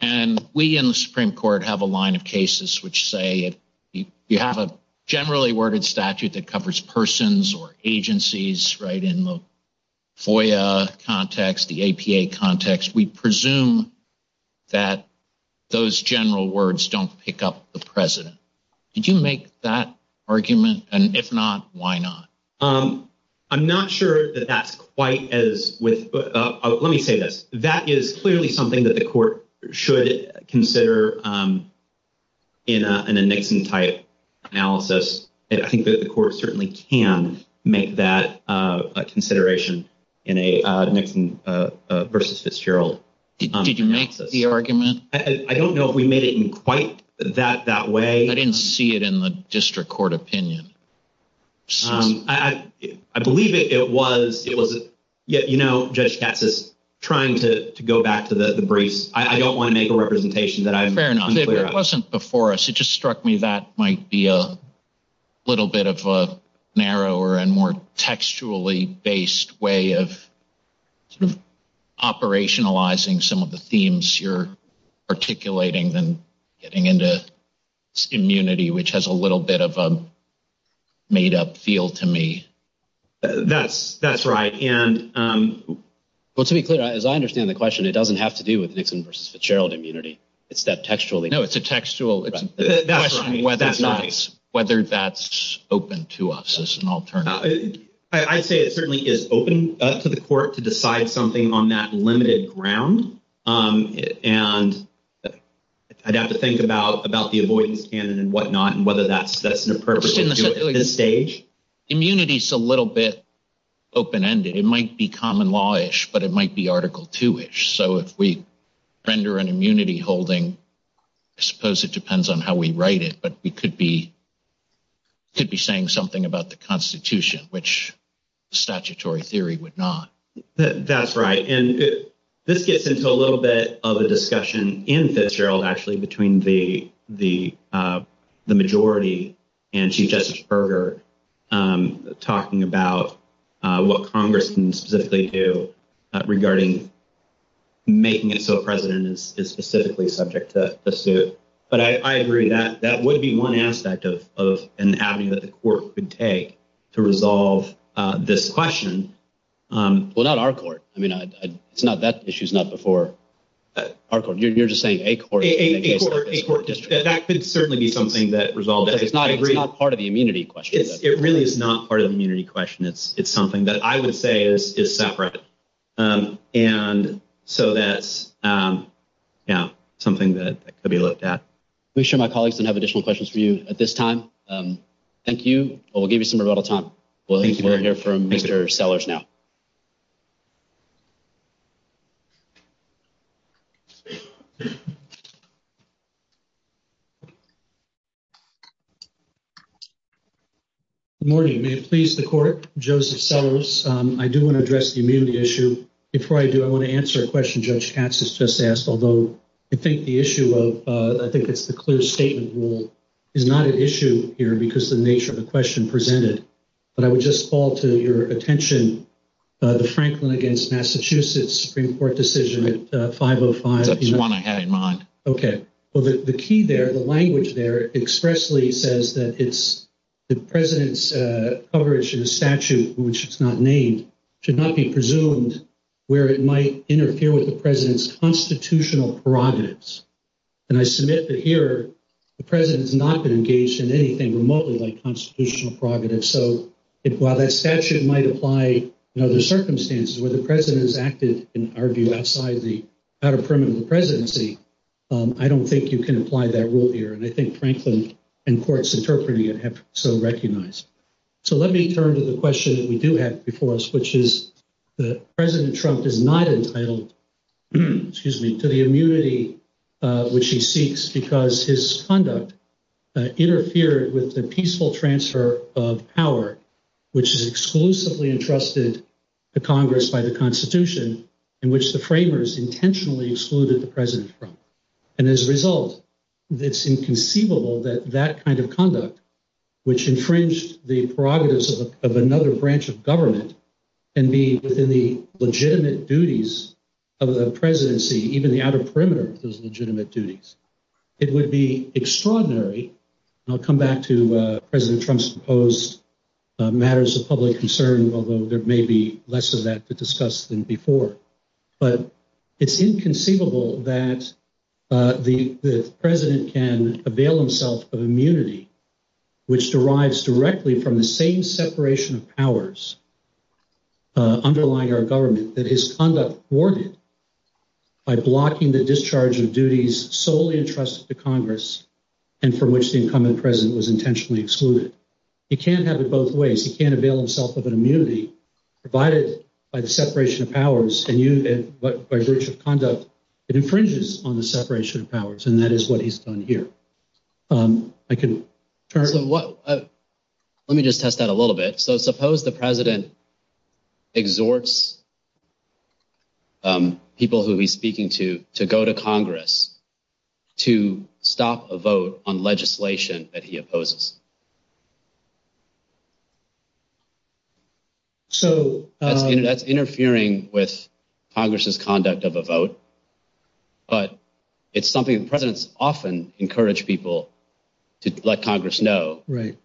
And we in the Supreme Court have a line of cases, which say, you have a generally worded statute that covers persons or agencies, right? In the FOIA context, the APA context, we presume that those general words don't pick up the president. Did you make that argument? And if not, why not? I'm not sure that that's quite as with, let me say this. That is clearly something that the court should consider in a Nixon type analysis. And I think that the court certainly can make that a consideration in a Nixon versus Fitzgerald. Did you make the argument? I don't know if we made it in quite that way. I didn't see it in the district court opinion. I believe it was, it wasn't yet, you know, Judge Katz is trying to go back to the briefs. I don't want to make a representation that I'm- Fair enough. It wasn't before us. It just struck me that might be a little bit of a narrower and more textually based way of sort of operationalizing some of the themes you're articulating and getting into immunity, which has a little bit of a made up feel to me. That's right. And- Well, to be clear, as I understand the question, it doesn't have to do with Nixon versus Fitzgerald immunity. It's that textually- No, it's a textual- Whether that's open to us as an alternative. I'd say it certainly is open to the court to decide something on that limited ground. And I'd have to think about the avoidance and whatnot and whether that's the purpose of this stage. Immunity is a little bit open-ended. It might be common law-ish, but it might be article two-ish. So if we render an immunity holding, I suppose it depends on how we write it, but we could be saying something about the constitution, which statutory theory would not. That's right. And this gets into a little bit of a discussion in Fitzgerald, actually, between the majority and Chief Justice Berger talking about what Congress can specifically do regarding making it so a president is specifically subject to the suit. But I agree. That would be an avenue that the court could take to resolve this question. Well, not our court. That issue's not before our court. You're just saying a court- A court district. That could certainly be something that resolves it. But it's not part of the immunity question. It really is not part of the immunity question. It's something that I would say is separate. And so that's something that could be looked at. Make sure my colleagues don't have additional questions for you at this time. Thank you. We'll give you some rebuttal time. We're going to hear from Mr. Sellers now. Good morning. Please, the court, Joseph Sellers. I do want to address the immunity issue. Before I do, I want to answer a question Judge Katz has just asked, although I think the issue of, I think it's the clear statement rule, is not an issue here because the nature of the question presented. But I would just call to your attention the Franklin against Massachusetts Supreme Court decision at 505- That's the one I had in mind. Okay. Well, the key there, the language there expressly says that the president's coverage of the statute, which it's not named, should not be presumed where it might interfere with president's constitutional prerogatives. And I submit that here, the president has not been engaged in anything remotely like constitutional prerogatives. So while that statute might apply in other circumstances where the president is active and argued outside of the outer perimeter of the presidency, I don't think you can apply that rule here. And I think Franklin and courts interpreting it have so recognized. So let me turn to the question that we do have before us, which is the president Trump is not entitled to the immunity, which he seeks because his conduct interfered with the peaceful transfer of power, which is exclusively entrusted to Congress by the constitution in which the framers intentionally excluded the president from. And as a result, it's inconceivable that that kind of conduct, which infringed the prerogatives of another branch of government and be within the legitimate duties of the presidency, even the outer perimeter of those legitimate duties. It would be extraordinary. I'll come back to president Trump's proposed matters of public concern, although there may be less of that to discuss than before, but it's inconceivable that the president can avail himself of immunity, which derives directly from the same separation of powers underlying our government, that his conduct worked by blocking the discharge of duties solely entrusted to Congress and for which the incumbent president was intentionally excluded. He can't have it both ways. He can't avail himself of an immunity provided by the separation of powers and what by virtue of conduct it infringes on the separation of powers. And that is what he's done here. Let me just test that a little bit. So suppose the president exhorts people who he's speaking to, to go to Congress, to stop a vote on legislation that he opposes. That's interfering with Congress's conduct of a vote, but it's something the presidents often encourage people to let Congress know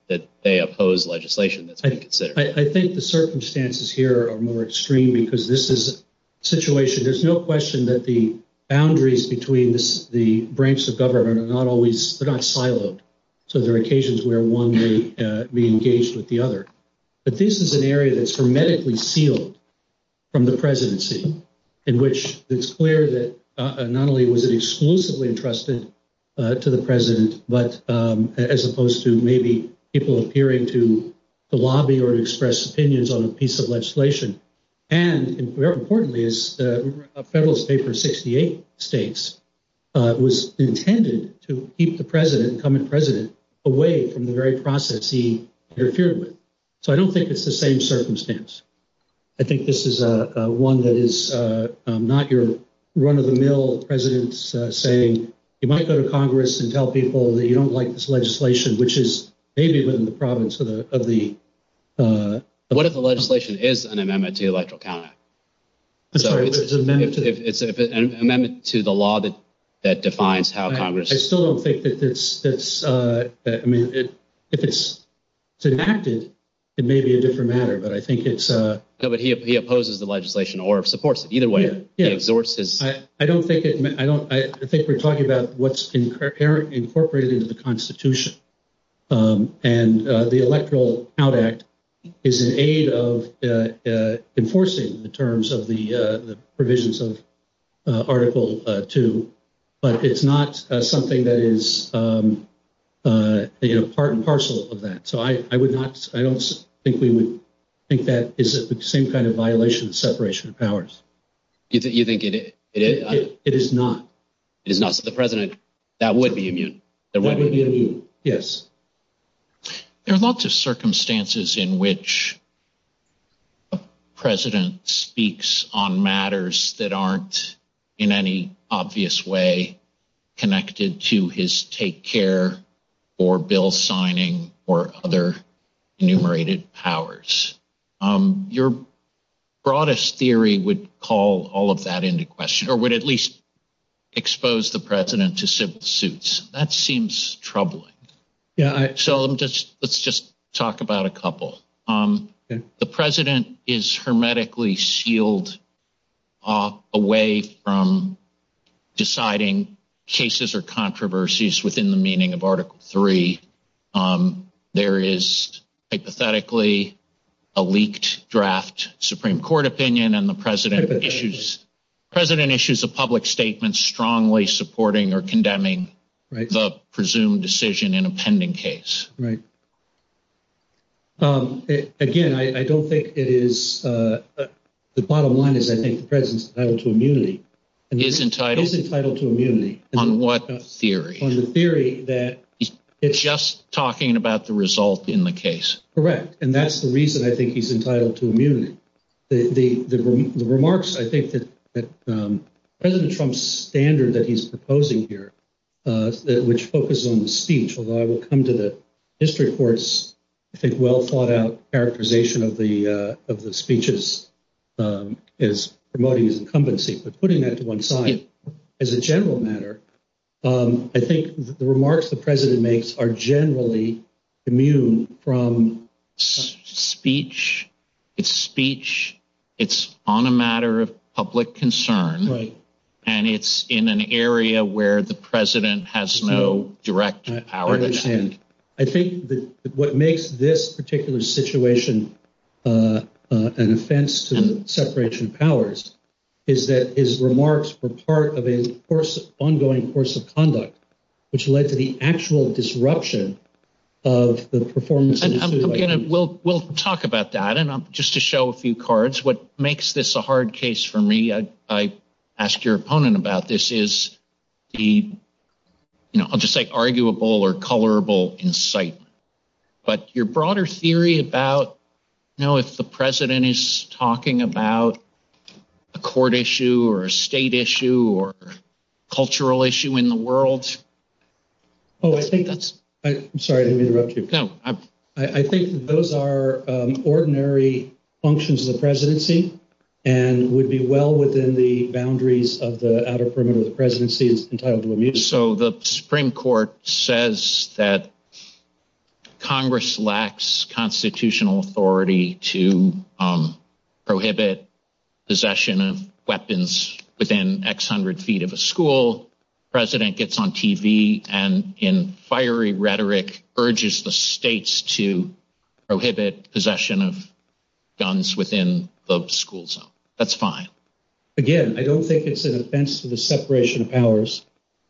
that they oppose legislation that they consider. I think the circumstances here are more extreme because this is a situation, there's no question that the boundaries between the branch of government are not always, they're not siloed. So there are occasions where one may be engaged with the other, but this is an area that's hermetically sealed from the presidency in which it's clear that not only was it exclusively entrusted to the president, but as opposed to maybe people appearing to lobby or express opinions on a piece of legislation. And very importantly is a federalist state for 68 states was intended to keep the president, incumbent president away from the very process he appeared with. So I don't think it's the same circumstance. I think this is a one that is not your run of the mill president's saying, you might go to Congress and tell people that you don't like this legislation, which is maybe even the province of the- What if the legislation is an amendment to the electoral calendar? I'm sorry, it's an amendment to the law that defines how Congress- I still don't think that it's, I mean, if it's enacted, it may be a different matter, but I think it's- No, but he opposes the legislation or supports it either way. Yeah, I don't think, I think we're talking about what's incorporated into the constitution and the electoral count act is an aid of enforcing the terms of the provisions of article two, but it's not something that is part and parcel of that. So I would not, I don't think we would think that is the same kind of violation of separation of powers. Do you think it is? It is not. It is not. So the president, that would be immune. That would be immune. Yes. There are lots of circumstances in which a president speaks on matters that aren't in any obvious way connected to his take care or bill signing or other enumerated powers. Your broadest theory would call all of that into question or would at least expose the president to civil suits. That seems troubling. Yeah. So let's just talk about a couple. The president is hermetically sealed away from deciding cases or controversies within the meaning of article three. There is hypothetically a leaked draft Supreme court opinion and the president issues, president issues, a public statement, strongly supporting or condemning the presumed decision in a pending case. Right. Again, I don't think it is. The bottom line is I think the president's entitled to immunity. He is entitled to immunity. On what theory? On the theory that. Just talking about the result in the case. Correct. And that's the reason I think he's entitled to immunity. The remarks, I think that President Trump's standard that he's proposing here, which focuses on the speech, although I will come to the district courts, I think well thought out characterization of the speeches is promoting his incumbency. But putting that to one side as a general matter, I think the remarks the president makes are generally immune from. Speech. It's speech. It's on a matter of public concern. And it's in an area where the president has no direct power. I think that what makes this particular situation an offense to separation of powers is that his remarks were part of a course of ongoing course of conduct, which led to the actual disruption of the performance. We'll we'll talk about that. And just to show a few cards, what makes this a hard case for me, I ask your opponent about this is the I'll just say arguable or colorable insight. But your broader theory about, you know, if the president is talking about a court issue or a state issue or cultural issue in the world. Oh, I think that's I'm sorry to interrupt you. I think those are ordinary functions of the presidency and would be well within the boundaries of the outer perimeter of the presidency. So the Supreme Court says that Congress lacks constitutional authority to and in fiery rhetoric urges the states to prohibit possession of guns within the school zone. That's fine. Again, I don't think it's an offense to the separation of powers.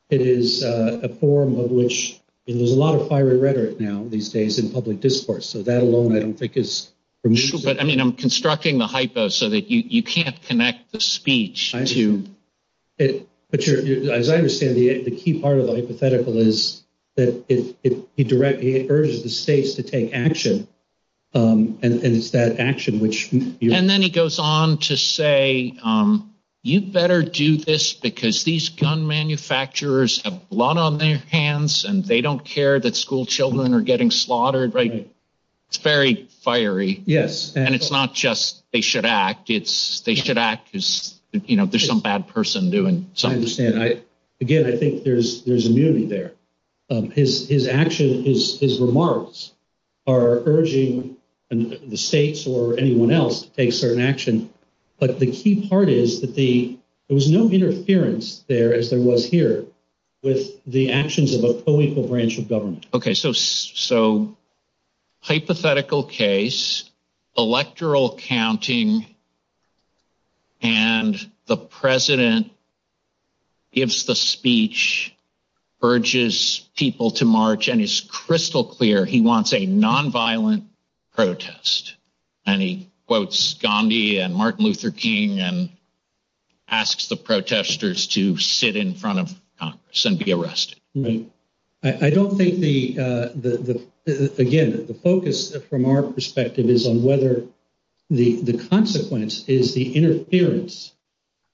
It is a form of which there's a lot of fiery rhetoric now these days in public discourse. So that alone, I think, is unusual. But I mean, I'm constructing the speech to it. But as I understand it, the key part of the hypothetical is that it directly urges the states to take action and that action, which and then it goes on to say, you better do this because these gun manufacturers have a lot on their hands and they don't care that school children are getting slaughtered. Right. Very fiery. Yes. And it's not just they should act. It's they should act because, you know, there's some bad person doing something. Again, I think there's there's immunity there. His action is his remarks are urging the states or anyone else to take certain action. But the key part is that the there was no interference there as there was here with the actions of a political branch of government. OK, so so hypothetical case, electoral counting. And the president. If the speech urges people to march and is crystal clear, he wants a nonviolent protest and he quotes Gandhi and Martin Luther King and asks the protesters to sit in front of sent the arrest. I don't think the the again, the focus from our perspective is on whether the consequence is the interference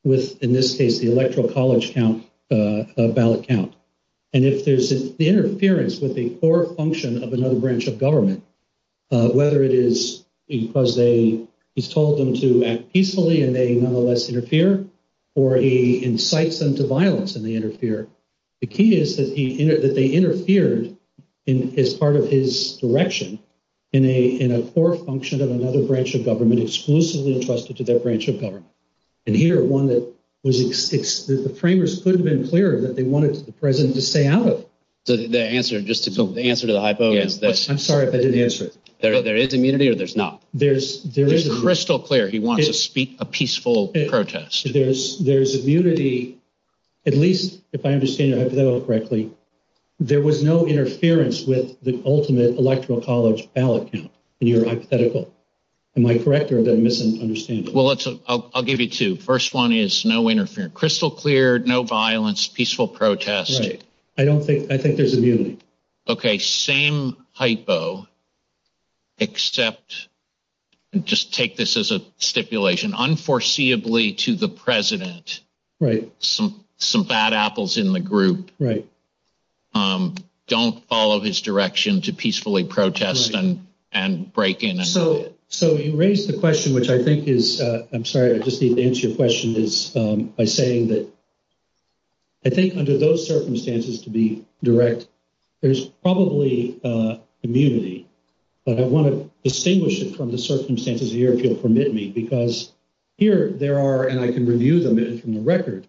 with, in this case, the electoral college count, ballot count. And if there's an interference with the core function of another branch of government, whether it is because they he's told them to act peacefully and they nonetheless interfere or he incites them to violence and they interfere. The key is that they interfered in as part of his direction in a in a core function of another branch of government, exclusively entrusted to their branch of government. And here, one that was the framers could have been clear that they wanted the president to stay out of the answer. Just to answer the hypo. I'm sorry if I didn't answer. There is immunity or there's not. There's crystal clear. He wants to speak a peaceful protest. There's immunity. At least if I understand correctly, there was no interference with the ultimate electoral college ballot in your hypothetical. Am I correct or am I misunderstanding? Well, I'll give you two. First one is no interference, crystal clear, no violence, peaceful protest. I don't think I think there's a view. OK, same hypo. Except just take this as a stipulation, unforeseeably to the president. Right. Some some bad apples in the group. Right. Don't follow his direction to peacefully protest and and break in. So so you raised the question, which I think is I'm sorry, I just need to answer your question is by saying that. I think under those circumstances to be direct, there's probably immunity, but I want to distinguish it from the circumstances here, if you'll permit me, because here there are, and I can review them from the record,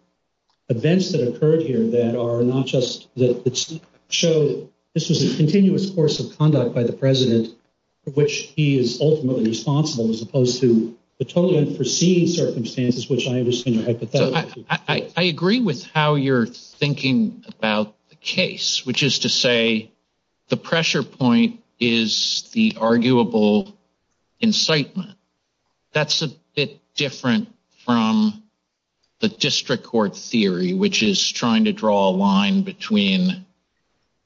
events that occurred here that are not just that showed this was a continuous course of conduct by the president, which he is ultimately responsible as opposed to the totally unforeseen circumstances, which I understand. I agree with how you're thinking about the case, which is to say the pressure point is the arguable incitement. That's a bit different from the district court theory, which is trying to draw a line between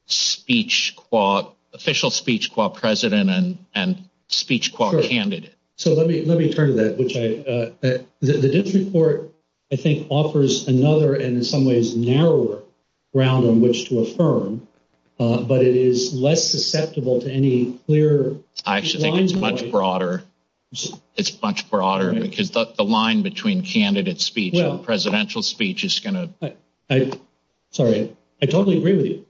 speech, quote, official speech, quote, president and speech, quote, candidate. So let me let me turn to that, which I the district court, I think, offers another and in some ways narrower ground on which to affirm, but it is less susceptible to any clear. I actually think it's much broader. It's much broader, and we can put the line between candidate speech and presidential speech is going to. I'm sorry. I totally agree with you.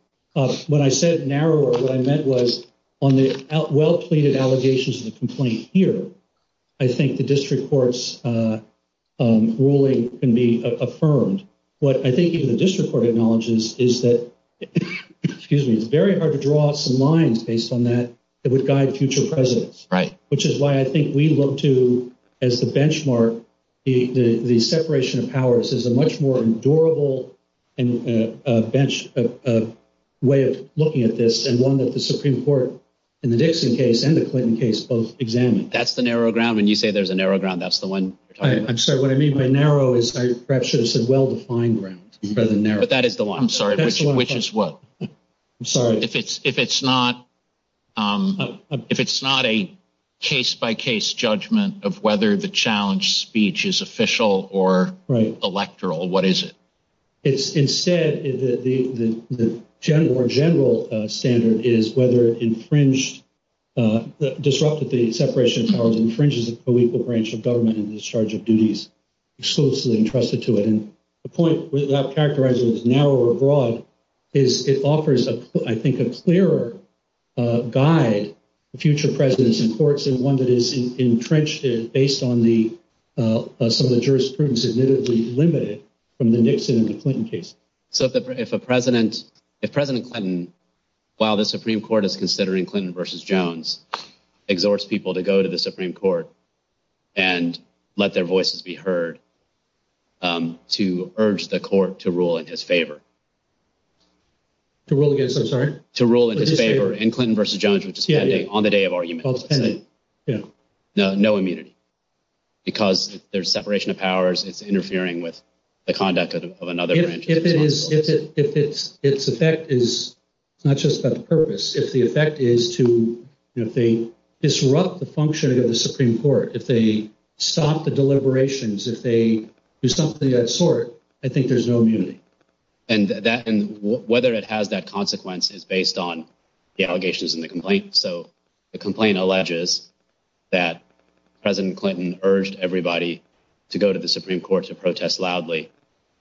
When I said narrower, what I meant was on the well-plated allegations of the complaint here, I think the district court's ruling can be affirmed. What I think even the district court acknowledges is that, excuse me, it's very hard to draw some lines based on that that would guide future presidents, which is why I think we look to as the benchmark, the separation of powers is a much more durable and a bench of way of looking at this and one that the Supreme Court in the Nixon case and the Clinton case both examined. That's the narrow ground. When you say there's a narrow ground, that's the one. I'm sorry. What I mean by narrow is very precious and well-defined ground. But that is the one. I'm sorry. Which is what? I'm sorry. If it's if it's not, if it's not a case by case judgment of whether the challenge speech is official or electoral, what is it? It's instead that the general standard is whether it infringed, disrupted the separation of powers, infringes a legal branch of government in discharge of duties exclusively entrusted to it. And the point that characterizes it as narrow or broad is it offers, I think, a clearer guide to future presidents in courts and one that is infringed based on some of the jurisprudence admittedly delimited from the Nixon and the Clinton case. So if a president, if President Clinton, while the Supreme Court is considering Clinton versus Jones, exhorts people to go to the Supreme Court and let their voices be heard to urge the court to rule in his favor. To rule against, I'm sorry? To rule in his favor in Clinton versus Jones, which is on the day of argument. Yeah, no, no immunity. Because there's separation of powers, it's interfering with the conduct of another branch. If it is, if its effect is not just a purpose, if the effect is to, you know, if they disrupt the functioning of the Supreme Court, if they stop the deliberations, if they do something of that sort, I think there's no immunity. And that, and whether it has that consequence is based on the allegations in the complaint. So the complaint alleges that President Clinton urged everybody to go to the Supreme Court to protest loudly.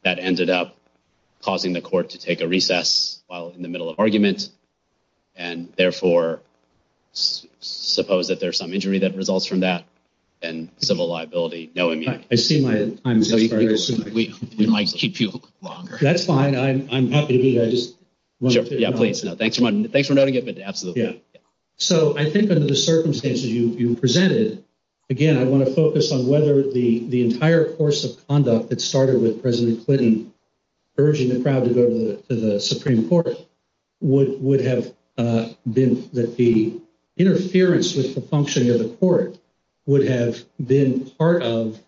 That ended up causing the court to take a recess while in the middle of argument, and therefore, suppose that there's some injury that results from that, and civil liability, no immunity. I see my, I'm sorry, we might keep you longer. That's fine, I'm happy to do this. Yeah, please, no, thanks for noting it, yeah. So I think under the circumstances you presented, again, I want to focus on whether the entire course of conduct that started with President Clinton urging the crowd to go to the Supreme Court would have been that the interference with the functioning of the court would have been part of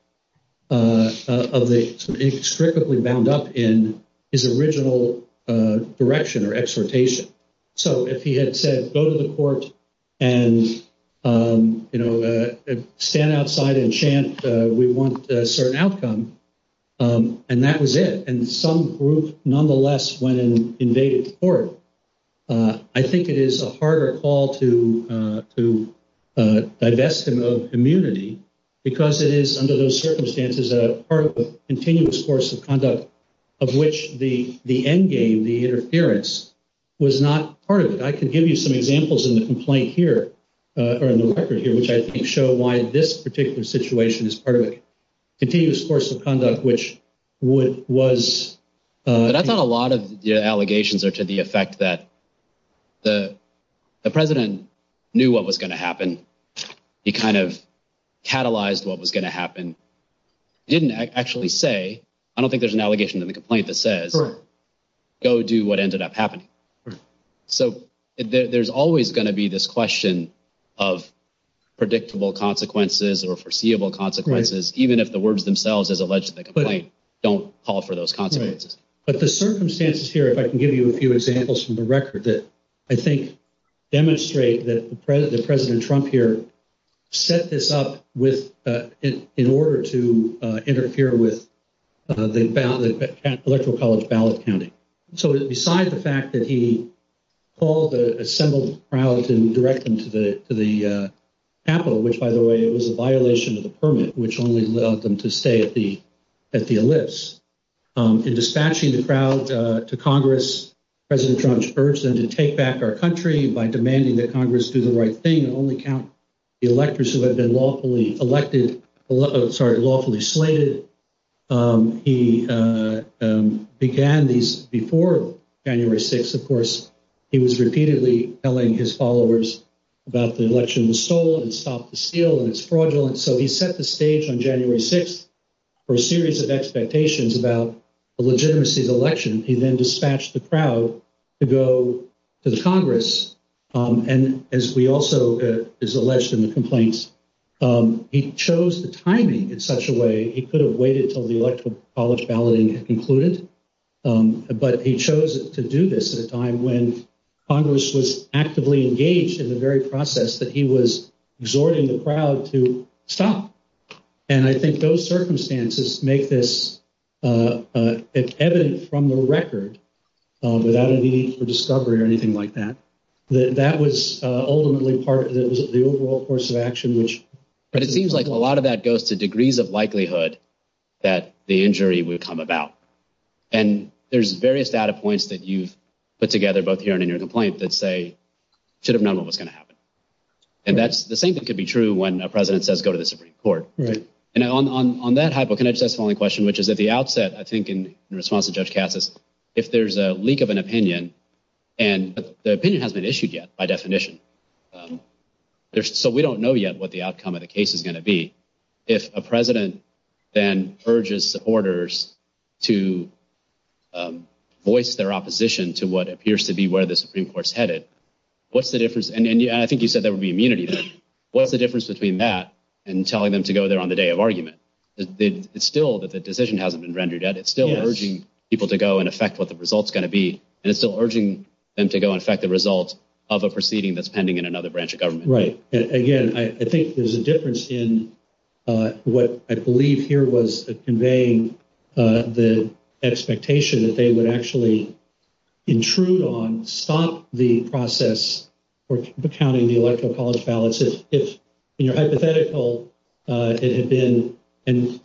the, it's strictly bound up in his original direction or exhortation. So if he had said go to the court and, you know, stand outside and chant, we want a certain outcome, and that was it, and some group nonetheless went and invaded the court. I think it is a harder call to divest him of immunity because it is under those circumstances a part of the continuous course of conduct of which the endgame, the interference, was not part of it. I can give you some examples in the complaint here, or in the record here, which I think show why this particular situation is part of a continuous course of conduct which would, was. But I thought a lot of the allegations are to the effect that the President knew what was going to happen. He kind of catalyzed what was going to happen. He didn't actually say, I don't think there's an allegation in the complaint that says go do what ended up happening. So there's always going to be this question of predictable consequences or foreseeable consequences, even if the words themselves as alleged in the complaint don't call for those consequences. But the circumstances here, I can give you a few examples from the record that I think demonstrate that the President Trump here set this up with, in order to interfere with the electoral college ballot counting. So besides the fact that he called the assembled crowd and direct them to the Capitol, which by the way, it was a violation of the permit, which only allowed them to stay at the list. In dispatching the crowd to Congress, President Trump urged them to take back our country by demanding that Congress do the right thing and only count the electors who have been lawfully elected, sorry, lawfully slated. He began these before January 6th. Of course, he was repeatedly telling his followers about the election was stolen, stop the steal, it's fraudulent. So he set the stage on January 6th for a series of expectations about the legitimacy of the election. He then dispatched the crowd to go to Congress. And as we also, as alleged in the complaints, he chose the timing in such a way he could have waited until the electoral college balloting had concluded. But he chose to do this at a time when exhorting the crowd to stop. And I think those circumstances make this evident from the record without a need for discovery or anything like that. That was ultimately part of the overall course of action, which- But it seems like a lot of that goes to degrees of likelihood that the injury would come about. And there's various data points that you've put together, both here and in your complaint that say, should have known what was going to happen. And that's the same thing could be true when a president says, go to the Supreme Court. And on that hypothesis, that's the only question, which is at the outset, I think, in response to Judge Cassis, if there's a leak of an opinion, and the opinion hasn't been issued yet by definition, so we don't know yet what the outcome of the case is going to be. If a president then urges supporters to voice their opposition to what appears to be where the Supreme Court's what's the difference? And I think you said that would be immunity. What's the difference between that and telling them to go there on the day of argument? It's still that the decision hasn't been rendered yet. It's still urging people to go and affect what the result's going to be. And it's still urging them to go and affect the results of a proceeding that's pending in another branch of government. Right. And again, I think there's a difference in what I believe here was conveying the expectation that they would actually intrude on, stop the process for counting the electoral college ballots. If hypothetical, it had been, and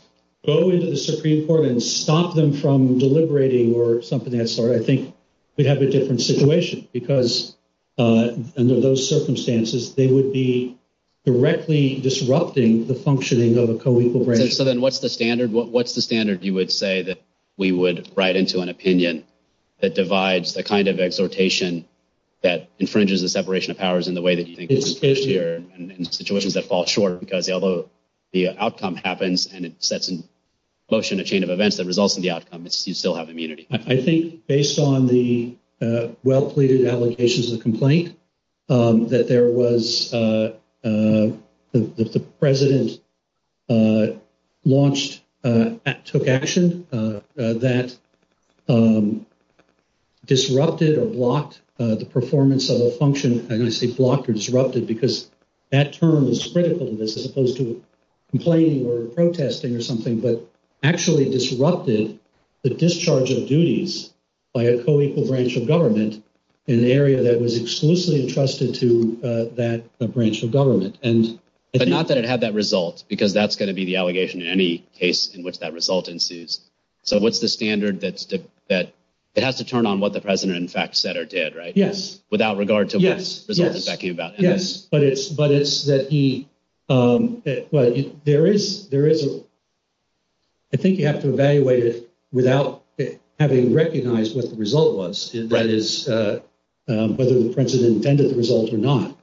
go into the Supreme Court and stop them from deliberating or something, I think we'd have a different situation because under those circumstances, they would be directly disrupting the functioning of a standard. What's the standard you would say that we would write into an opinion that divides the kind of exhortation that infringes the separation of powers in the way that you think in situations that fall short because the outcome happens and it sets in motion a chain of events that results in the outcome. You still have immunity. I think based on the allegations of complaint that there was, that the president launched, took action that disrupted or blocked the performance of a function. I'm going to say blocked or disrupted because that term is critical to this as opposed to complaining or protesting or something, but actually disrupted the discharge of duties by a co-equal branch of government in the area that was exclusively trusted to that branch of government. But not that it had that result because that's going to be the allegation in any case in which that result ensues. So what's the standard that has to turn on what the president in fact said or did, right? Without regard to what he was talking about. Yes, but it's that there is, I think you have to evaluate it without having recognized what the result was, whether the president intended the results or not.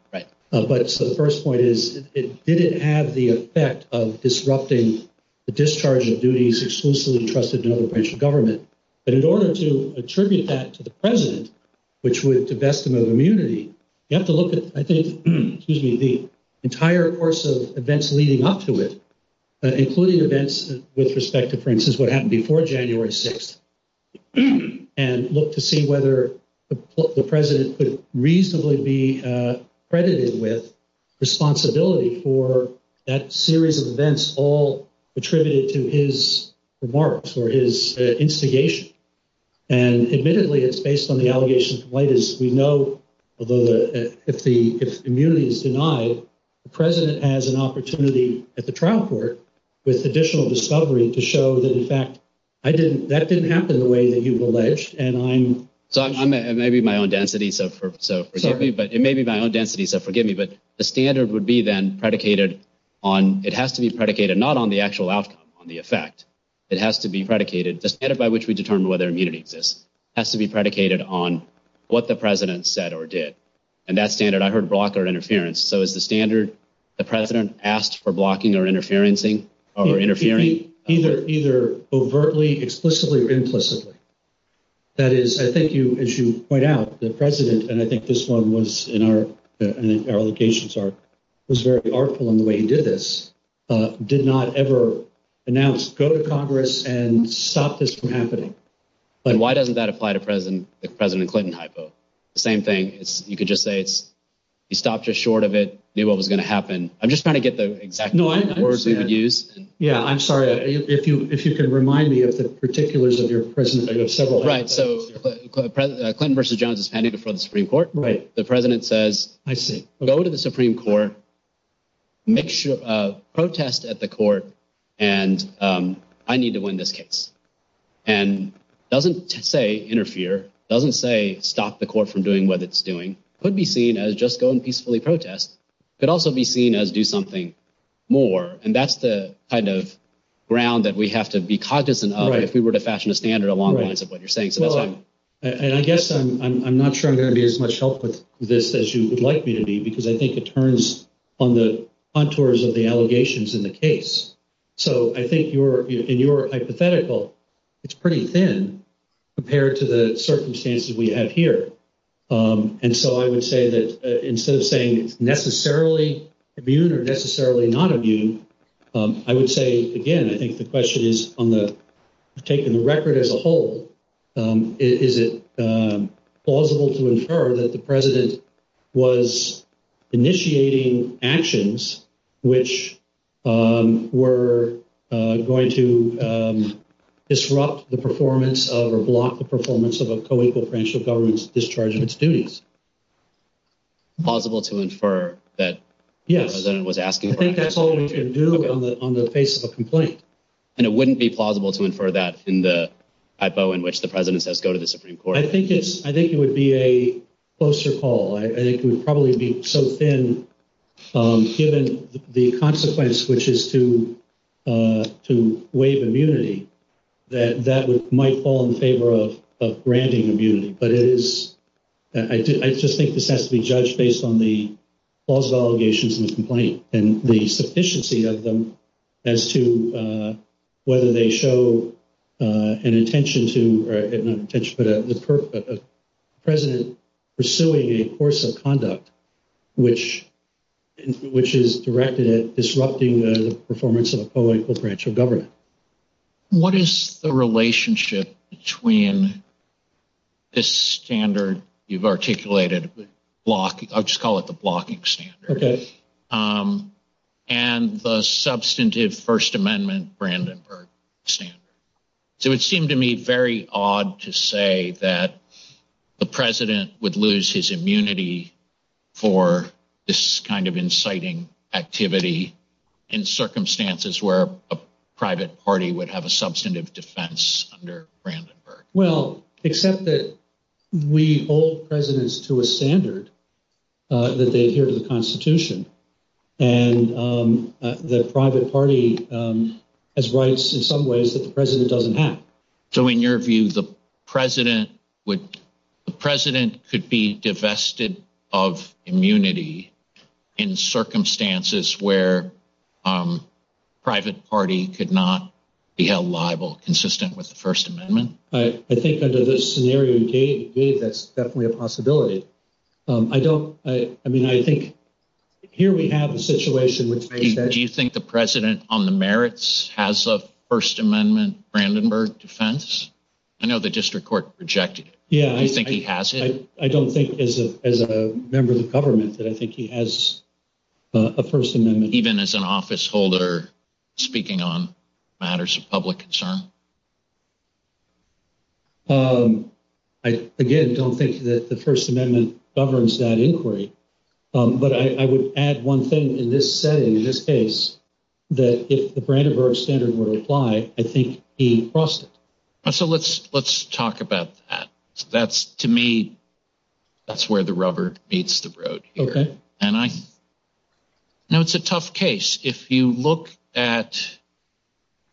But so the first point is, it didn't have the effect of disrupting the discharge of duties exclusively trusted by the branch of government. But in order to attribute that to the president, which was a vestment of immunity, you have to look at, I think, excuse me, the entire course of events leading up to it, including events with respect to, for instance, what happened before January 6th, and look to see whether the president could reasonably be credited with responsibility for that series of events all attributed to his remarks or his instigation. And admittedly, it's based on the allegations of what is, we know, although the immunity is denied, the president has an opportunity at the trial court with additional discovery to show that in fact, I didn't, that didn't happen the way that you've alleged and I'm. So I may be my own density. So forgive me, but it may be my own density. So forgive me, but the standard would be then predicated on, it has to be predicated not on the actual outcome on the effect. It has to be predicated, the standard by which we determine whether immunity exists has to be predicated on what the president said or did. And that standard, I heard blocker interference. So as the standard, the president asked for blocking or interferencing or interfering either overtly, explicitly or implicitly. That is, I think you, as you point out the president, and I think this one was in our, our locations are, was very artful in the way he did this, did not ever announce, go to Congress and stop this from happening. But why doesn't that apply to president, the president Clinton hypo? The same thing, you could just say, you stopped just short of it, knew what was going to happen. I'm just trying to get the exact words we could use. Yeah, I'm sorry. If you, if you can remind me of the particulars of your president, I know several. Right. So Clinton versus Jones is pending before the Supreme Court. The president says, I see, go to the Supreme Court, make sure a protest at the court. And I need to win this case. And doesn't say interfere, doesn't say stop the court from doing what it's doing. Could be seen as just go and peacefully protest, but also be seen as do something more. And that's the kind of ground that we have to be cognizant of if we were to fashion the standard along the lines of what you're saying. And I guess I'm not sure I'm going to be as much help with this as you would like me to be, because I think it turns on the contours of the allegations in the case. So I think your hypothetical, it's pretty thin compared to the circumstances we have here. And so I would say that instead of saying necessarily immune or as a whole, is it plausible to infer that the president was initiating actions, which were going to disrupt the performance of a block, the performance of a co-equal potential government's discharging of students. Possible to infer that the president was asking. I think that's all we can do on the, on the face of a complaint. And it wouldn't be plausible to infer that in the hypo in which the president says, go to the Supreme Court. I think it's, I think it would be a closer call. I think it would probably be so thin given the consequence, which is to, to waive immunity, that that would, might fall in favor of, of granting immunity. But it is, I do, I just think this has to be judged based on the allegations in the complaint and the sufficiency of them as to whether they show an intention to, or not an intention, but a precedent pursuing a course of conduct, which, which is directed at disrupting the performance of a co-equal potential government. What is the relationship between this standard you've articulated with blocking, I'll just call it the blocking standard, and the substantive First Amendment, Brandenburg standard? So it seemed to me very odd to say that the president would lose his immunity for this kind of inciting activity in circumstances where a private party would have a substantive defense under Brandenburg. Well, except that we hold presidents to a standard that they adhere to the constitution. And the private party has rights in some ways that the president doesn't have. So in your view, the president would, the president could be divested of immunity in circumstances where private party could not be held liable, consistent with the I think here we have a situation with that. Do you think the president on the merits has a First Amendment Brandenburg defense? I know the district court rejected it. Yeah. I think he has it. I don't think as a member of the government that I think he has a First Amendment even as an office holder speaking on matters of public concern. I again, don't think that the First Amendment. But I would add one thing in this setting, in this case, that if the Brandenburg standard were applied, I think he crossed it. So let's talk about that. That's to me, that's where the rubber meets the road here. Okay. And I know it's a tough case. If you look at,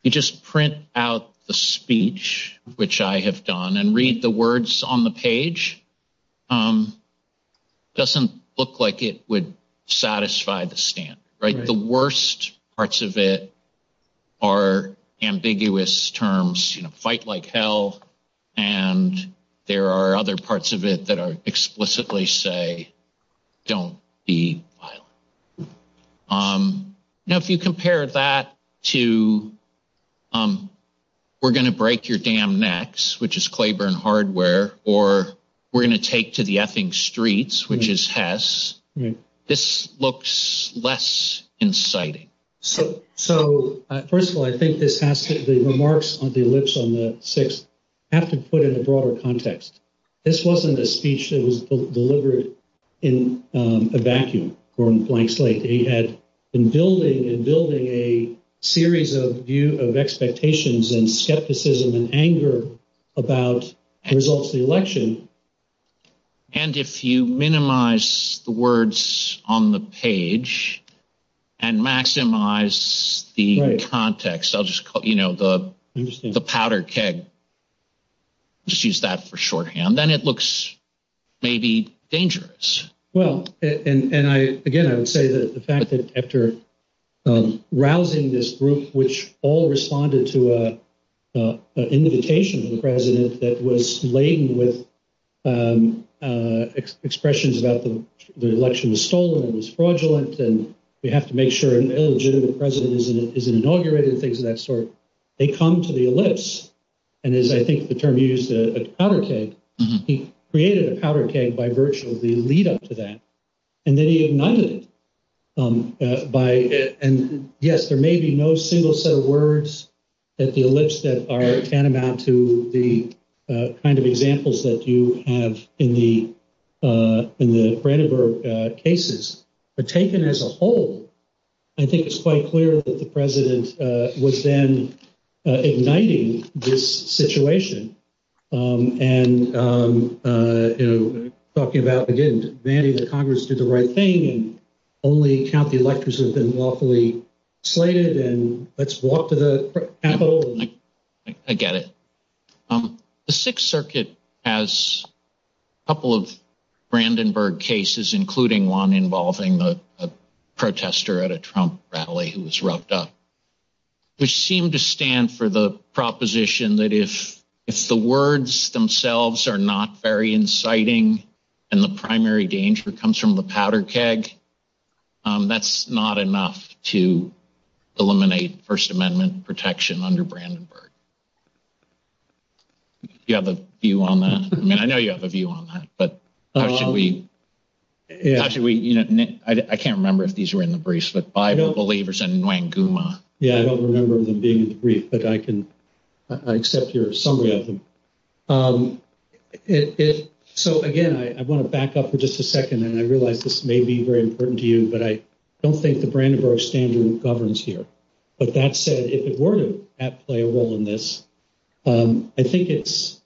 you just print out the speech, which I have done and read the words on the page, um, doesn't look like it would satisfy the stand, right? The worst parts of it are ambiguous terms, you know, fight like hell. And there are other parts of it that are explicitly say, don't be. Now, if you compare that to, um, we're going to break your damn necks, which is Clayburn hardware, or we're going to take to the effing streets, which is Tess. This looks less inciting. So, so first of all, I think this has the remarks on the lips on the six have to put in a broader context. This wasn't a speech that was delivered in a vacuum from blank slate. They had been building and building a series of view of expectations and skepticism and anger about the results of the election. And if you minimize the words on the page and maximize the context, I'll just call it, you know, the, the powder keg, just use that for shorthand, then it looks maybe dangerous. Well, and I, again, I would say that the fact that after rousing this group, which all responded to, uh, uh, an invitation to the president that was laden with, um, uh, expressions about the election was stolen and was fraudulent. And you have to make sure an illegitimate president isn't, isn't inaugurated and things of that sort. They come to the list. And as I think the term used a powder keg, he created a powder keg by virtue of the lead up to that. And then he ignited, um, uh, by, and yes, there may be no single set of words that the lips that are tantamount to the, uh, kind of examples that you have in the, uh, in the credit cases are taken as a whole. I think it's quite clear that the president, uh, was then igniting this situation. Um, and, um, uh, you know, talking about again, the Congress did the right thing. Only county electors have been lawfully slated and let's walk to the, I get it. Um, the sixth circuit has a couple of Brandenburg cases, including one involving a protester at a Trump rally, who was rubbed up, which seemed to stand for the proposition that if it's the words themselves are not very inciting and the primary danger comes from the powder keg, um, that's not enough to eliminate first amendment protection under Brandenburg. You have a view on that? I mean, I know you have a view on that, but how should we, I can't remember if these were in the briefs, but Bible believers and Wanguma. Yeah. I don't remember them being in the brief, but I can, I accept your summary of them. Um, so again, I want to back up for just a second and I realized this may be very important to you, but I don't think the Brandenburg standard governs here, but that said, if it weren't at play a role in this, um, I think it's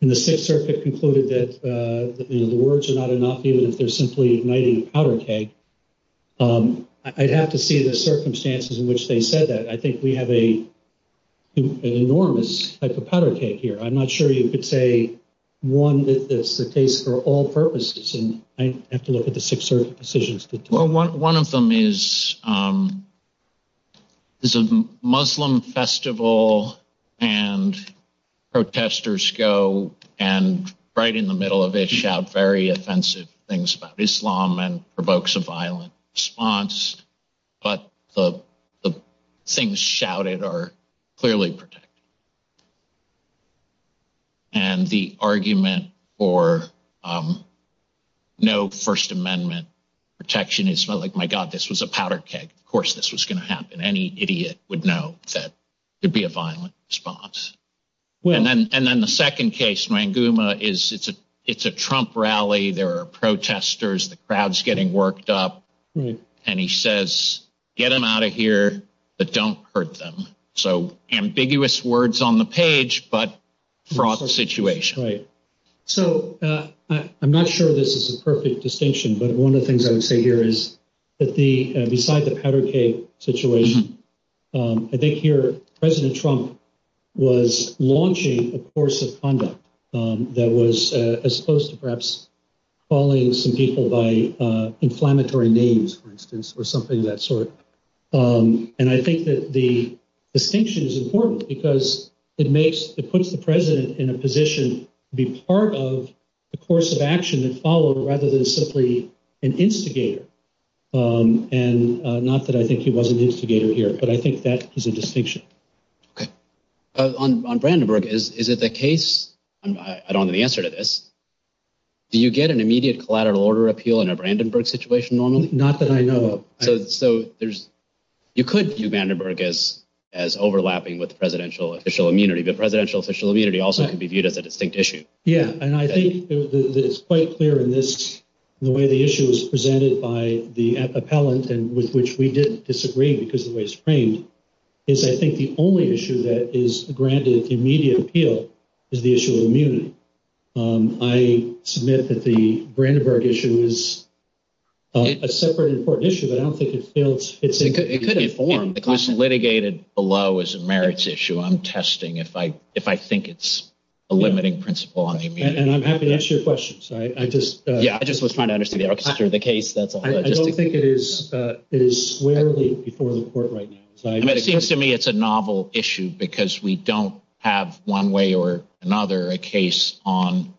in the sixth circuit concluded that, uh, the words are not enough, even if they're simply igniting a powder keg. Um, I'd have to see the circumstances in which they said that. I think we have a, an enormous powder keg here. I'm not sure you could say one that's the case for all purposes. And I have to look at the six decisions. One of them is, um, there's a Muslim festival and protesters go and right in the middle of it, very offensive things about Islam and provokes a violent response, but the things shouted are clearly protected. And the argument for, um, no first amendment protection is like, my God, this was a powder keg. Of course, this was going to happen. Any idiot would know that would be a violent response. And then, and then the second case is it's a, it's a Trump rally. There are protesters, the crowd's getting worked up and he says, get them out of here, but don't hurt them. So ambiguous words on the page, but the situation, right? So, uh, I'm not sure this is a perfect distinction, but one of the things I would say here is that the, uh, besides the powder keg situation, um, I think here, President Trump was launching a course of conduct, um, that was as opposed to perhaps calling some people by, uh, inflammatory names, for instance, or something of that sort. Um, and I think that the distinction is important because it makes, it puts the president in a position to be part of the action that followed rather than simply an instigator. Um, and, uh, not that I think he wasn't an instigator here, but I think that is a distinction. Okay. Uh, on, on Brandenburg is, is it the case? I don't have the answer to this. Do you get an immediate collateral order appeal in a Brandenburg situation normally? Not that I know of. So there's, you could do Brandenburg as, as overlapping with the presidential official immunity, but presidential official immunity also can be viewed as a distinct issue. Yeah. And I think that it's quite clear in this, the way the issue was presented by the appellant and with which we didn't disagree because the way it's framed is I think the only issue that is granted immediate appeal is the issue of immunity. Um, I submit that the Brandenburg issue is a separate important issue, but I don't think it fails. It could be formed because litigated below is a merits issue. I'm testing. If I, if I think it's a limiting principle, I'm happy to answer your questions. I just, yeah, I just was trying to understand the case. I don't think it is, uh, it is squarely before the court right now. It seems to me it's a novel issue because we don't have one way or another, a case on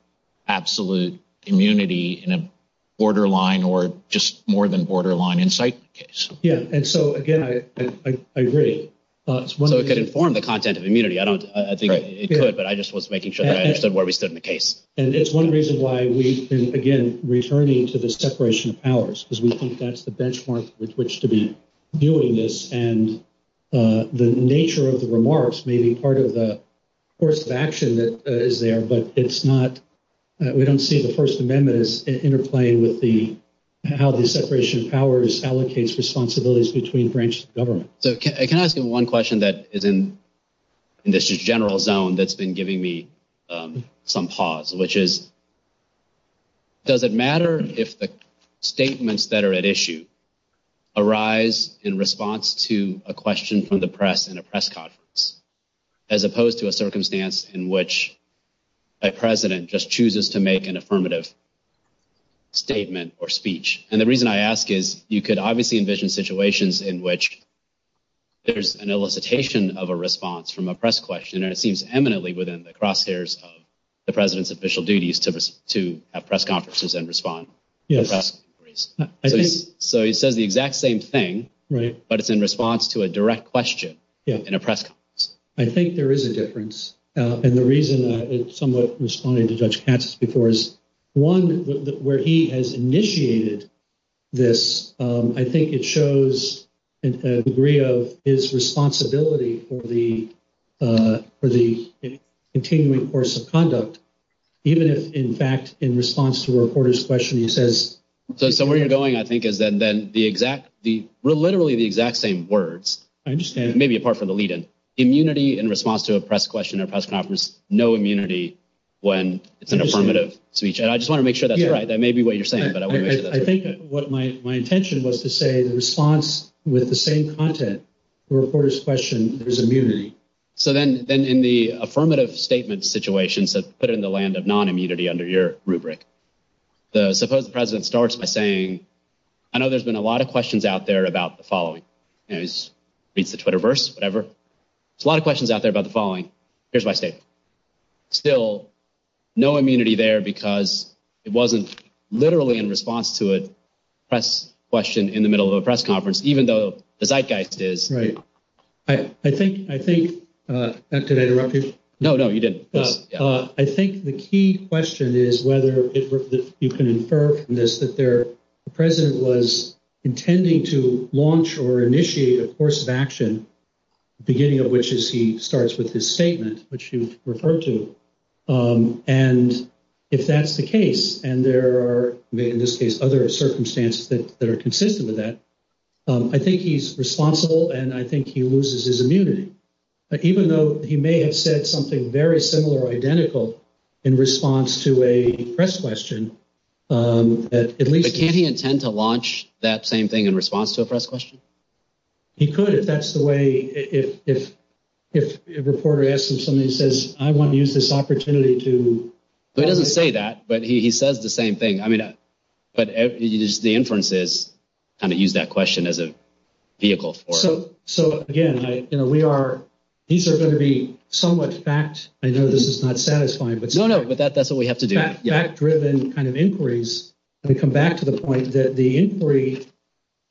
absolute immunity in a borderline or just more than borderline insight. Yeah. And so again, I, I, I agree. It's one that could inform the content of immunity. I don't think it could, but I just was making sure that I understood where we stood in the case. And it's one reason why we can, again, returning to the separation of powers because we think that's the benchmark with which to be doing this. And, uh, the nature of the remarks may be part of the course of action that is there, but it's not, we don't see the first amendment is interplaying with the, how the separation of powers allocates responsibilities between branches of government. So can I ask you one question that is in this general zone that's been giving me some pause, which is, does it matter if the statements that are at issue arise in response to a question from the press and a press conference, as opposed to a circumstance in which a president just chooses to make an affirmative statement or speech. And the reason I ask is you could obviously envision situations in which there's an elicitation of a response from a press question, or it seems eminently within the crosshairs of the president's official duties to have press conferences and respond. So he said the exact same thing, but it's in response to a direct question in a press. I think there is a difference. Uh, and the reason that it's somewhat responding to judge before is one where he has initiated this. Um, I think it shows a degree of his responsibility for the, uh, for the continuing course of conduct, even if in fact, in response to reporters question, he says, so somewhere you're going, I think is that then the exact, the literally the exact same words, I understand maybe apart from the lead in immunity in response to a press question no immunity when it's an affirmative speech. And I just want to make sure that that may be what you're saying, but I think what my, my intention was to say the response with the same content reporters question is immunity. So then, then in the affirmative statement situations, so put it in the land of non-immunity under your rubric, the president starts by saying, I know there's been a lot of questions out there about the following, you know, my state still no immunity there because it wasn't literally in response to a press question in the middle of a press conference, even though the Zeitgeist is right. I think, I think, uh, no, no, you didn't. Uh, I think the key question is whether you can infer from this, that there, the president was intending to launch or initiate a course of action beginning which you see starts with this statement, which you refer to. Um, and if that's the case, and there are in this case, other circumstances that are consistent with that, um, I think he's responsible. And I think he loses his immunity, but even though he may have said something very similar, identical in response to a press question, um, at least can he intend to launch that same in response to a press question? He could, if that's the way, if, if, if a reporter asks him, somebody says, I want to use this opportunity to, he doesn't say that, but he says the same thing. I mean, but the inference is kind of use that question as a vehicle. So, so again, you know, we are, these are going to be somewhat facts. I know this is not satisfying, but that's what we have to do. Fact driven kind of inquiries. And to come back to the point that the inquiry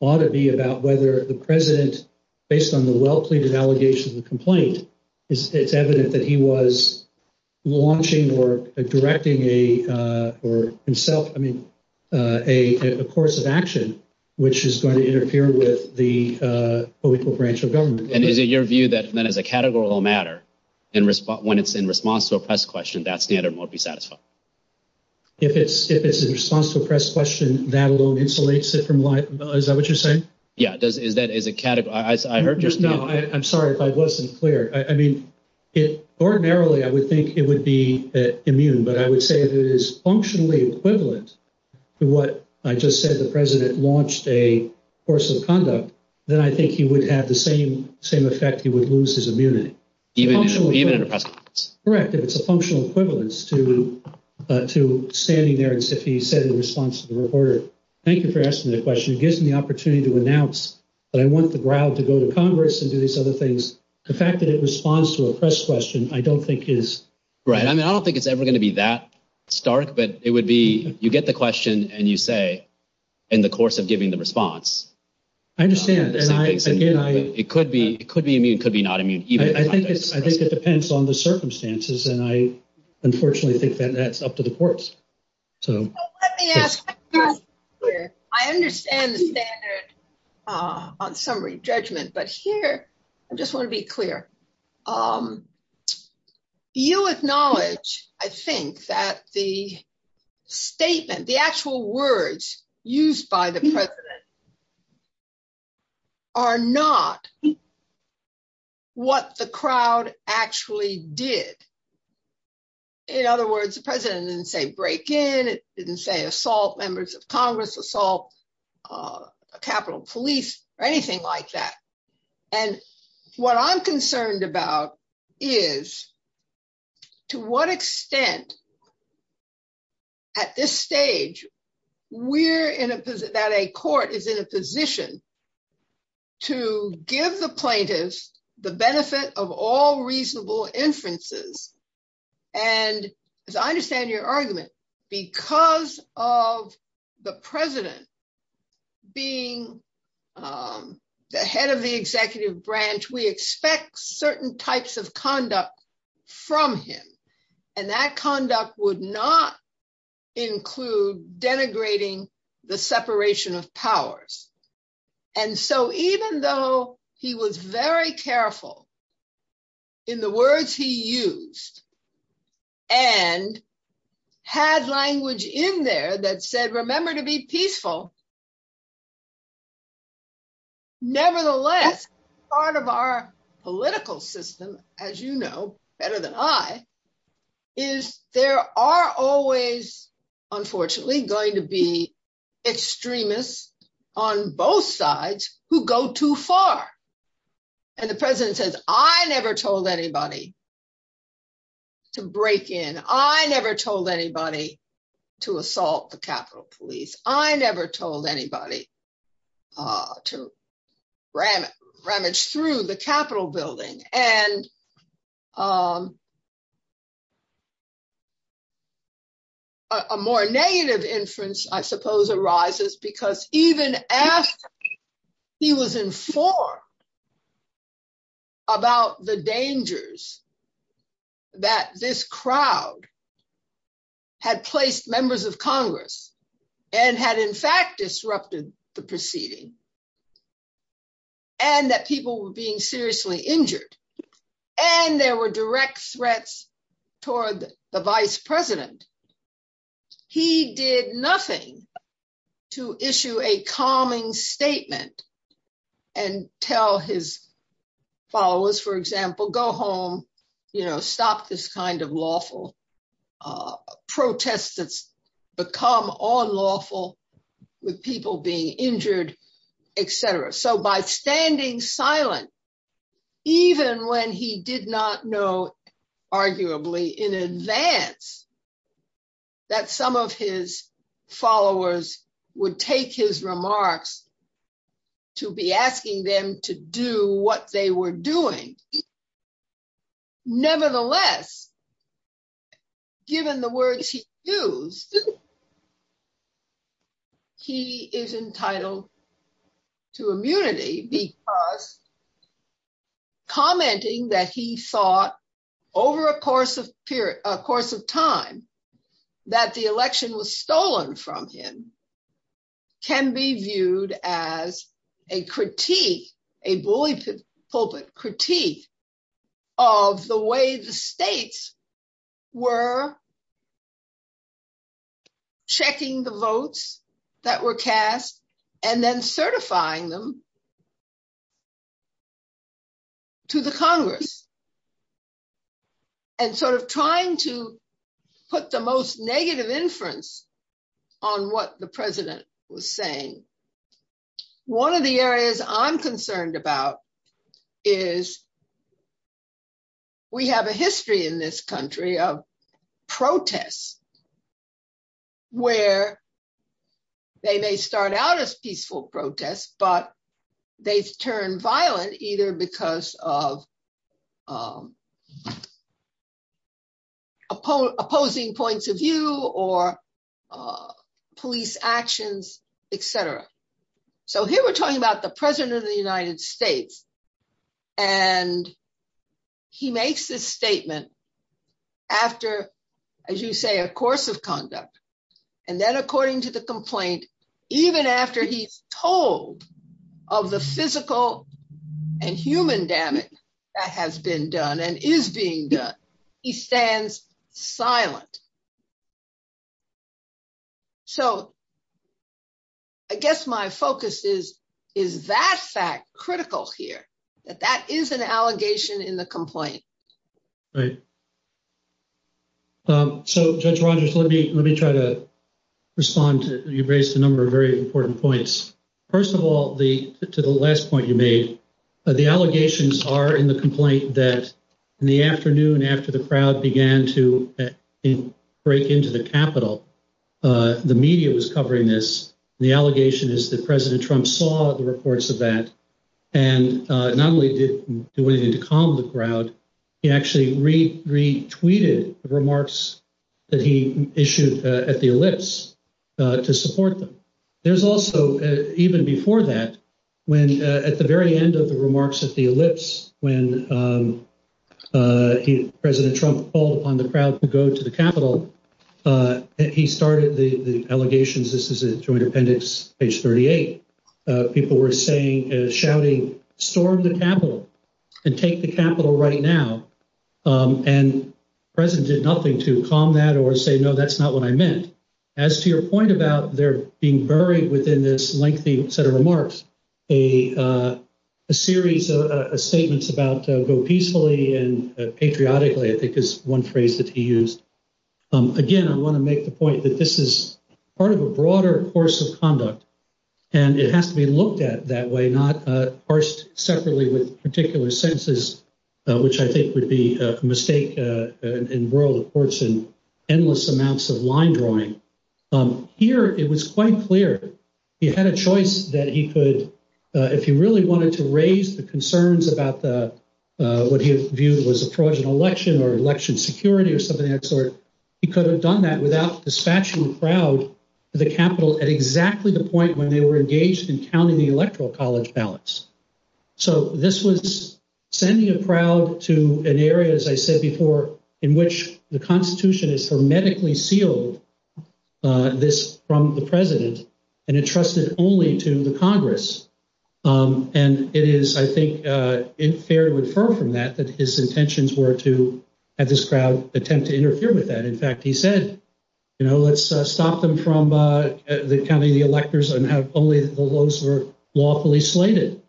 ought to be about whether the president, based on the well-pleaded allegations and complaint, it's evident that he was launching or directing a, uh, or himself, I mean, uh, a course of action, which is going to interfere with the, uh, political branch of government. And is it your view that then as a categorical matter in response, when it's in response to a press question, that's the end or more be satisfied. If it's, if it's in response to a press question, that alone insulates it from life. Is that what you're saying? Yeah, it does. Is that, is it categorical? No, I'm sorry if I wasn't clear. I mean, it ordinarily, I would think it would be immune, but I would say that it is functionally equivalent to what I just said, the president launched a course of conduct that I think he would have the same, same effect. He would lose his immunity. Correct. If it's a functional equivalence to, uh, to standing there and safety said in response to the reporter, thank you for asking that question. It gives me the opportunity to announce that I want the ground to go to Congress and do these other things. The fact that it responds to a press question, I don't think is right. I mean, I don't think it's ever going to be that stark, but it would be, you get the question and you say, in the course of giving the response, I understand. And I, again, I, it could be, it could be immune, could be not immune. I think it's, I think it depends on the circumstances. And I unfortunately think that that's up to the courts. So I understand the standard, uh, on summary judgment, but here, I just want to be clear. Um, you acknowledge, I think that the statement, the actual words used by the president are not what the crowd actually did. In other words, the president didn't say break in. It didn't say assault members of Congress assault, uh, Capitol police or anything like that. And what I'm concerned about is to what extent at this stage, we're in a position that a court is in a position to give the plaintiffs the benefit of all reasonable inferences. And as I understand your argument, because of the president being, um, the head of the executive branch, we expect certain types of conduct from him. And that conduct would not include denigrating the separation of had language in there that said, remember to be peaceful. Nevertheless, part of our political system, as you know, better than I is there are always, unfortunately going to be extremists on both sides who go too far. And the president says, I never told anybody to break in. I never told anybody to assault the Capitol police. I never told anybody, uh, to ramage through the Capitol building and, um, a more negative inference, I suppose arises because even as he was informed about the dangers that this crowd had placed members of Congress and had in fact disrupted the proceeding and that people were being seriously injured and there were direct threats toward the vice president. He did nothing to issue a calming statement and tell his followers, for example, go home, you know, stop this kind of lawful, uh, protests that's become all lawful with people being injured, et cetera. So by standing silent, even when he did not know arguably in advance that some of his followers would take his remarks to be asking them to do what they were doing. Nevertheless, given the words he used, he is entitled to immunity because commenting that he thought over a course of period, a course of time that the election was stolen from him can be viewed as a critique, a bullyful critique of the way the states were checking the votes that were cast and then certifying them to the Congress and sort of trying to put the most negative inference on what the president was saying. One of the areas I'm concerned about is we have a history in this country of protests where they may start out as peaceful protests, but they turn violent either because of opposing points of view or police actions, et cetera. So here we're talking about the president of the United States and he makes this statement after, as you say, a course of conduct. And then according to the complaint, even after he's told of the physical and human damage that has been done and is being done, he stands silent. So I guess my focus is that fact critical here, that that is an allegation in the complaint. Right. So Judge Rogers, let me try to respond to, you've raised a number of very important points. First of all, to the last point you made, the allegations are in the complaint that in the afternoon after the crowd began to break into the Capitol, the media was covering this. The allegation is that President Trump saw the reports of that and not only did he do anything to calm the crowd, he actually retweeted remarks that he issued at the Ellipse to support them. There's also, even before that, when at the very end of the remarks at the Ellipse, when President Trump called on the crowd to go to the Capitol, he started the allegations. This is a joint appendix, page 38. People were saying and shouting, storm the Capitol and take the Capitol right now. And the president did nothing to calm that or say, no, that's not what I meant. As to your point about there being buried within this lengthy set of remarks, a series of statements about go peacefully and patriotically, I think is one phrase that he used. Again, I want to make the point that this is part of a broader course of conduct and it has to be looked at that way, not parsed separately with particular senses, which I think would be a mistake in the world of courts and endless amounts of line drawing. Here, it was quite clear he had a choice that he could, if he really wanted to raise the concerns about what he viewed was a fraudulent election or election security or something of that sort, he could have done that without dispatching the crowd to the Capitol at exactly the point when they were engaged in counting the electoral college ballots. So this was sending a crowd to an area, as I said before, in which the constitution has hermetically sealed this from the president and entrusted only to the Congress. And it is, I think, in fair to refer from that, that his intentions were to have this crowd attempt to interfere with that. In fact, he said, you know, let's stop them from counting the electors and have only those who are lawfully slated.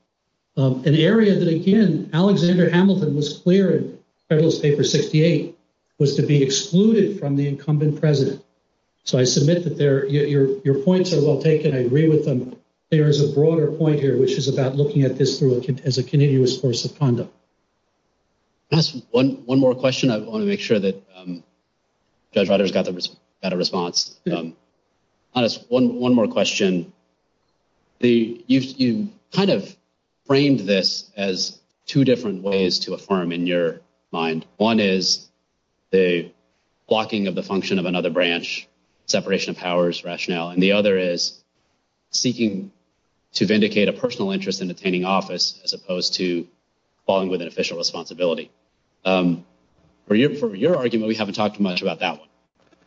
An area that, again, Alexander Hamilton was clear in Federalist Paper 68 was to be excluded from the incumbent president. So I submit that your points are well taken. I agree with them. There is a broader point here, which is about looking at this as a continuous course of conduct. One more question. I want to make sure that others got a response. One more question. You kind of framed this as two different ways to affirm in your mind. One is the blocking of the function of another branch, separation of powers rationale. And the other is seeking to vindicate a personal interest in obtaining office as opposed to falling within official responsibility. For your argument, we haven't talked much about that.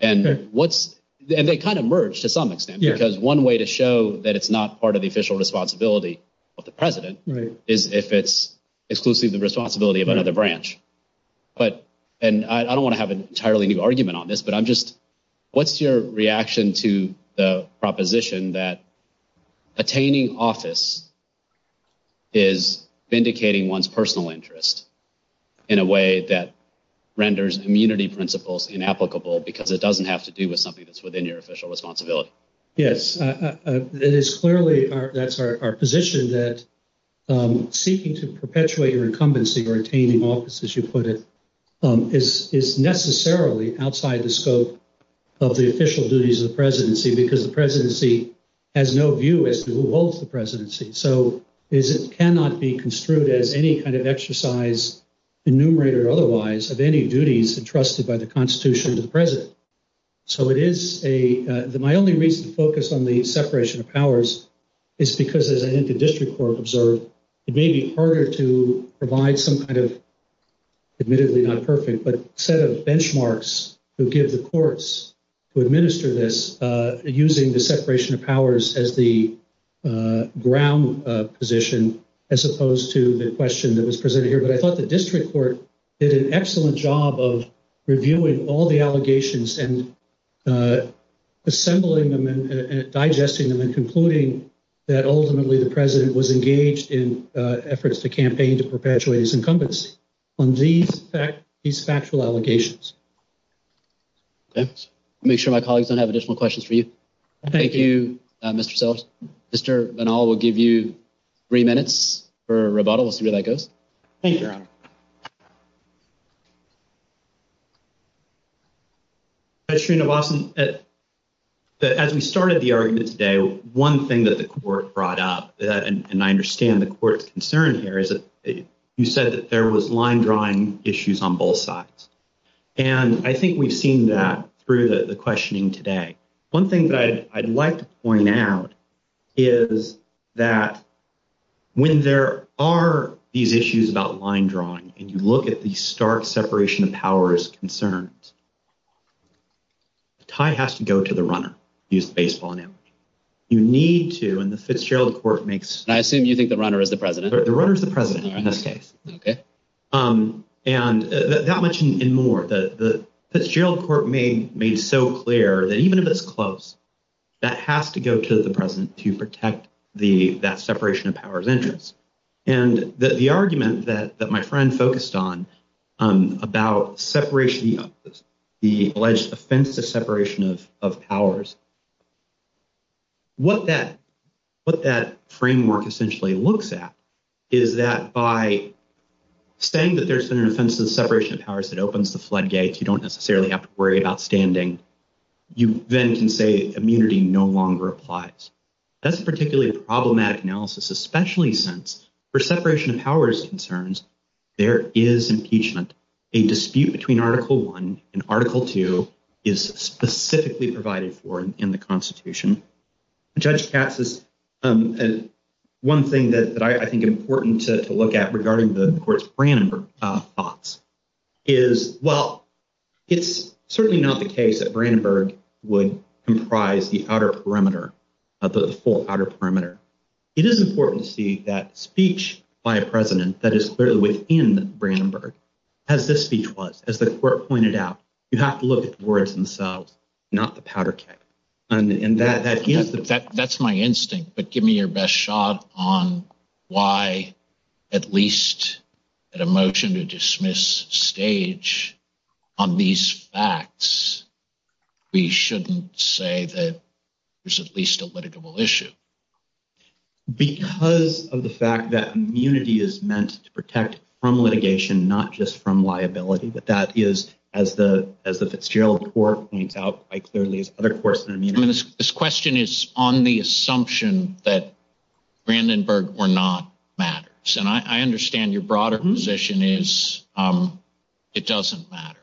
And what's and they kind of merged to some extent, because one way to show that it's not part of the official responsibility of the president is if it's exclusively the responsibility of another branch. But and I don't want to have an entirely new argument on this, but I'm just what's your reaction to the proposition that attaining office is vindicating one's personal interest in a way that renders immunity principles inapplicable because it doesn't have to do with something that's within your official responsibility? Yes, that is clearly that's our position that seeking to perpetuate your incumbency or obtaining office, as you put it, is necessarily outside the scope of the official duties of the presidency, because the presidency has no view as to who holds the presidency. So it cannot be construed as any kind of exercise enumerate or otherwise of any duties entrusted by the constitution to the president. So it is a my only reason to focus on the separation of powers is because as I think the district court observed, it may be harder to provide some kind of admittedly not perfect, but set of benchmarks to give the courts to administer this using the separation of powers as the ground position, as opposed to the question that was presented here. But I thought the district court did an excellent job of reviewing all the allegations and assembling them and digesting them and concluding that ultimately the president was engaged in efforts to campaign to perpetuate his incumbency on these factual allegations. Make sure my colleagues don't have additional questions for you. Thank you, Mr. Sellers. Mr. Banal will give you three minutes for a rebuttal. We'll see where that goes. Thank you. As we started the argument today, one thing that the court brought up, and I understand the court's concern here, is that you said that there was line drawing issues on both sides. And I think we've seen that through the questioning today. One thing that I'd like to point out is that when there are these issues about line drawing, and you look at the stark separation of powers concerns, the tie has to go to the runner. You need to, and the Fitzgerald court makes... I assume you think the runner is the president. The runner is the president. And that much and more. The Fitzgerald court made so clear that even if it's close, that has to go to the president to protect that separation of powers interest. And the argument that my friend focused on about the alleged offensive separation of powers, what that framework essentially looks at is that by saying that there's an offensive separation of powers that opens the floodgates, you don't necessarily have to worry about standing. You then can say immunity no longer applies. That's a particularly problematic analysis, especially since for separation of powers concerns, there is impeachment. A dispute between article one and article two is specifically provided for in the constitution. Judge Katz says, and one thing that I think important to look at regarding the court's Brandenburg thoughts is, well, it's certainly not the case that Brandenburg would comprise the outer perimeter of the full outer perimeter. It is important to see that speech by a president that is clearly within Brandenburg. As this speech was, as the court pointed out, you have to look at the words themselves, not the powder keg. And that's my instinct, but give me your best shot on why at least at a motion to dismiss stage on these facts, we shouldn't say that there's at least a litigable issue. Because of the fact that immunity is meant to protect from litigation, not just from liability, but that is as the, as the Fitzgerald court points out by clearly other courts. This question is on the assumption that Brandenburg were not matters. And I understand your broader position is it doesn't matter.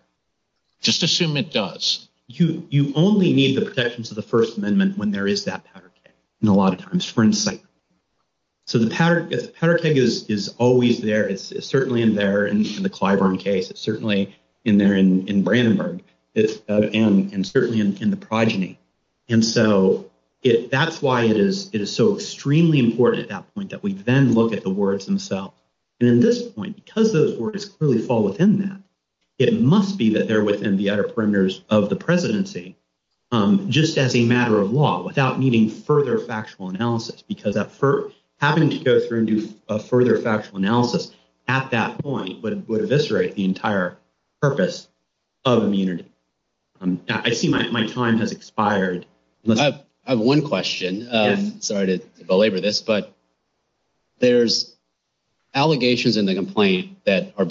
Just assume it does. You only need the protections of the first amendment when there is that powder keg and a lot of times for insight. So the powder keg is always there. It's certainly in there and the Clyburn case, it's certainly in there in Brandenburg and certainly in the progeny. And so that's why it is so extremely important at that point that we then look at the words themselves. And at this point, because those words clearly fall within that, it must be that within the utter fringes of the presidency, just as a matter of law, without needing further factual analysis, because for having to go through and do a further factual analysis at that point would eviscerate the entire purpose of immunity. I see my time has expired. I have one question. Sorry to belabor this, but there's allegations in the complaint that are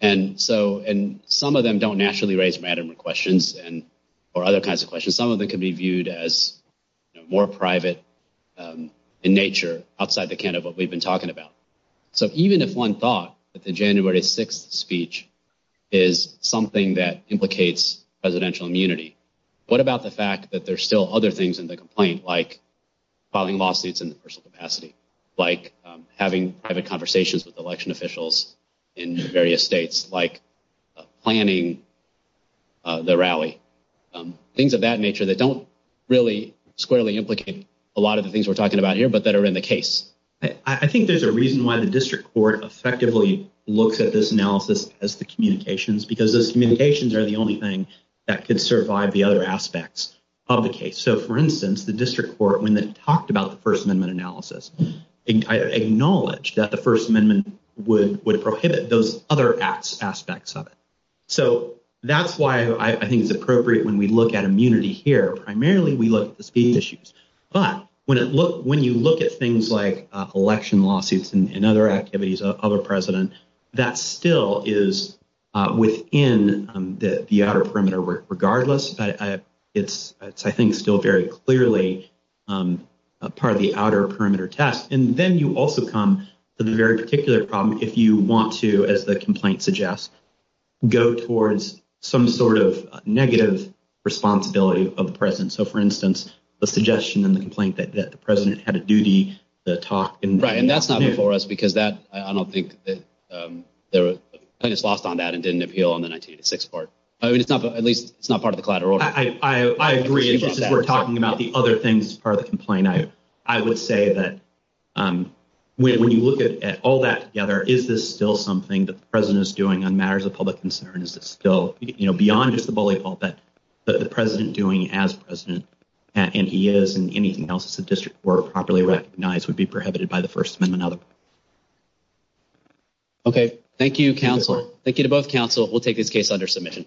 and some of them don't naturally raise matter of questions or other kinds of questions. Some of them can be viewed as more private in nature outside the canon of what we've been talking about. So even if one thought that the January 6th speech is something that implicates presidential immunity, what about the fact that there's still other things in the complaint, like filing lawsuits in the personal capacity, like having private conversations with election officials in various states, like planning the rally? Things of that nature that don't really squarely implicate a lot of the things we're talking about here, but that are in the case. I think there's a reason why the district court effectively looked at this analysis as the communications, because those communications are the only thing that could survive the other aspects of the case. So for instance, the district court, when they talked about the First Amendment analysis, acknowledged that the First Amendment would prohibit those other aspects of it. So that's why I think it's appropriate when we look at immunity here. Primarily we look at the speech issues, but when you look at things like election lawsuits and other activities of the president, that still is within the outer perimeter. Regardless, it's, I think, still very clearly a part of the outer perimeter test. And then you also come to the very particular problem if you want to, as the complaint suggests, go towards some sort of negative responsibility of the president. So for instance, the suggestion in the complaint that the president had a duty to talk. Right, and that's not before us, because that, I don't think that the plaintiff's lost on that appeal on the 1986 part. At least it's not part of the collateral. I agree. We're talking about the other things as part of the complaint. I would say that when you look at all that together, is this still something that the president is doing on matters of public concern? Is it still, you know, beyond just the bully fault, that the president doing as president, and he is, and anything else the district court properly recognized would be prohibited by the First Amendment. Okay, thank you, counsel. Thank you to both counsel. We'll take this case under submission.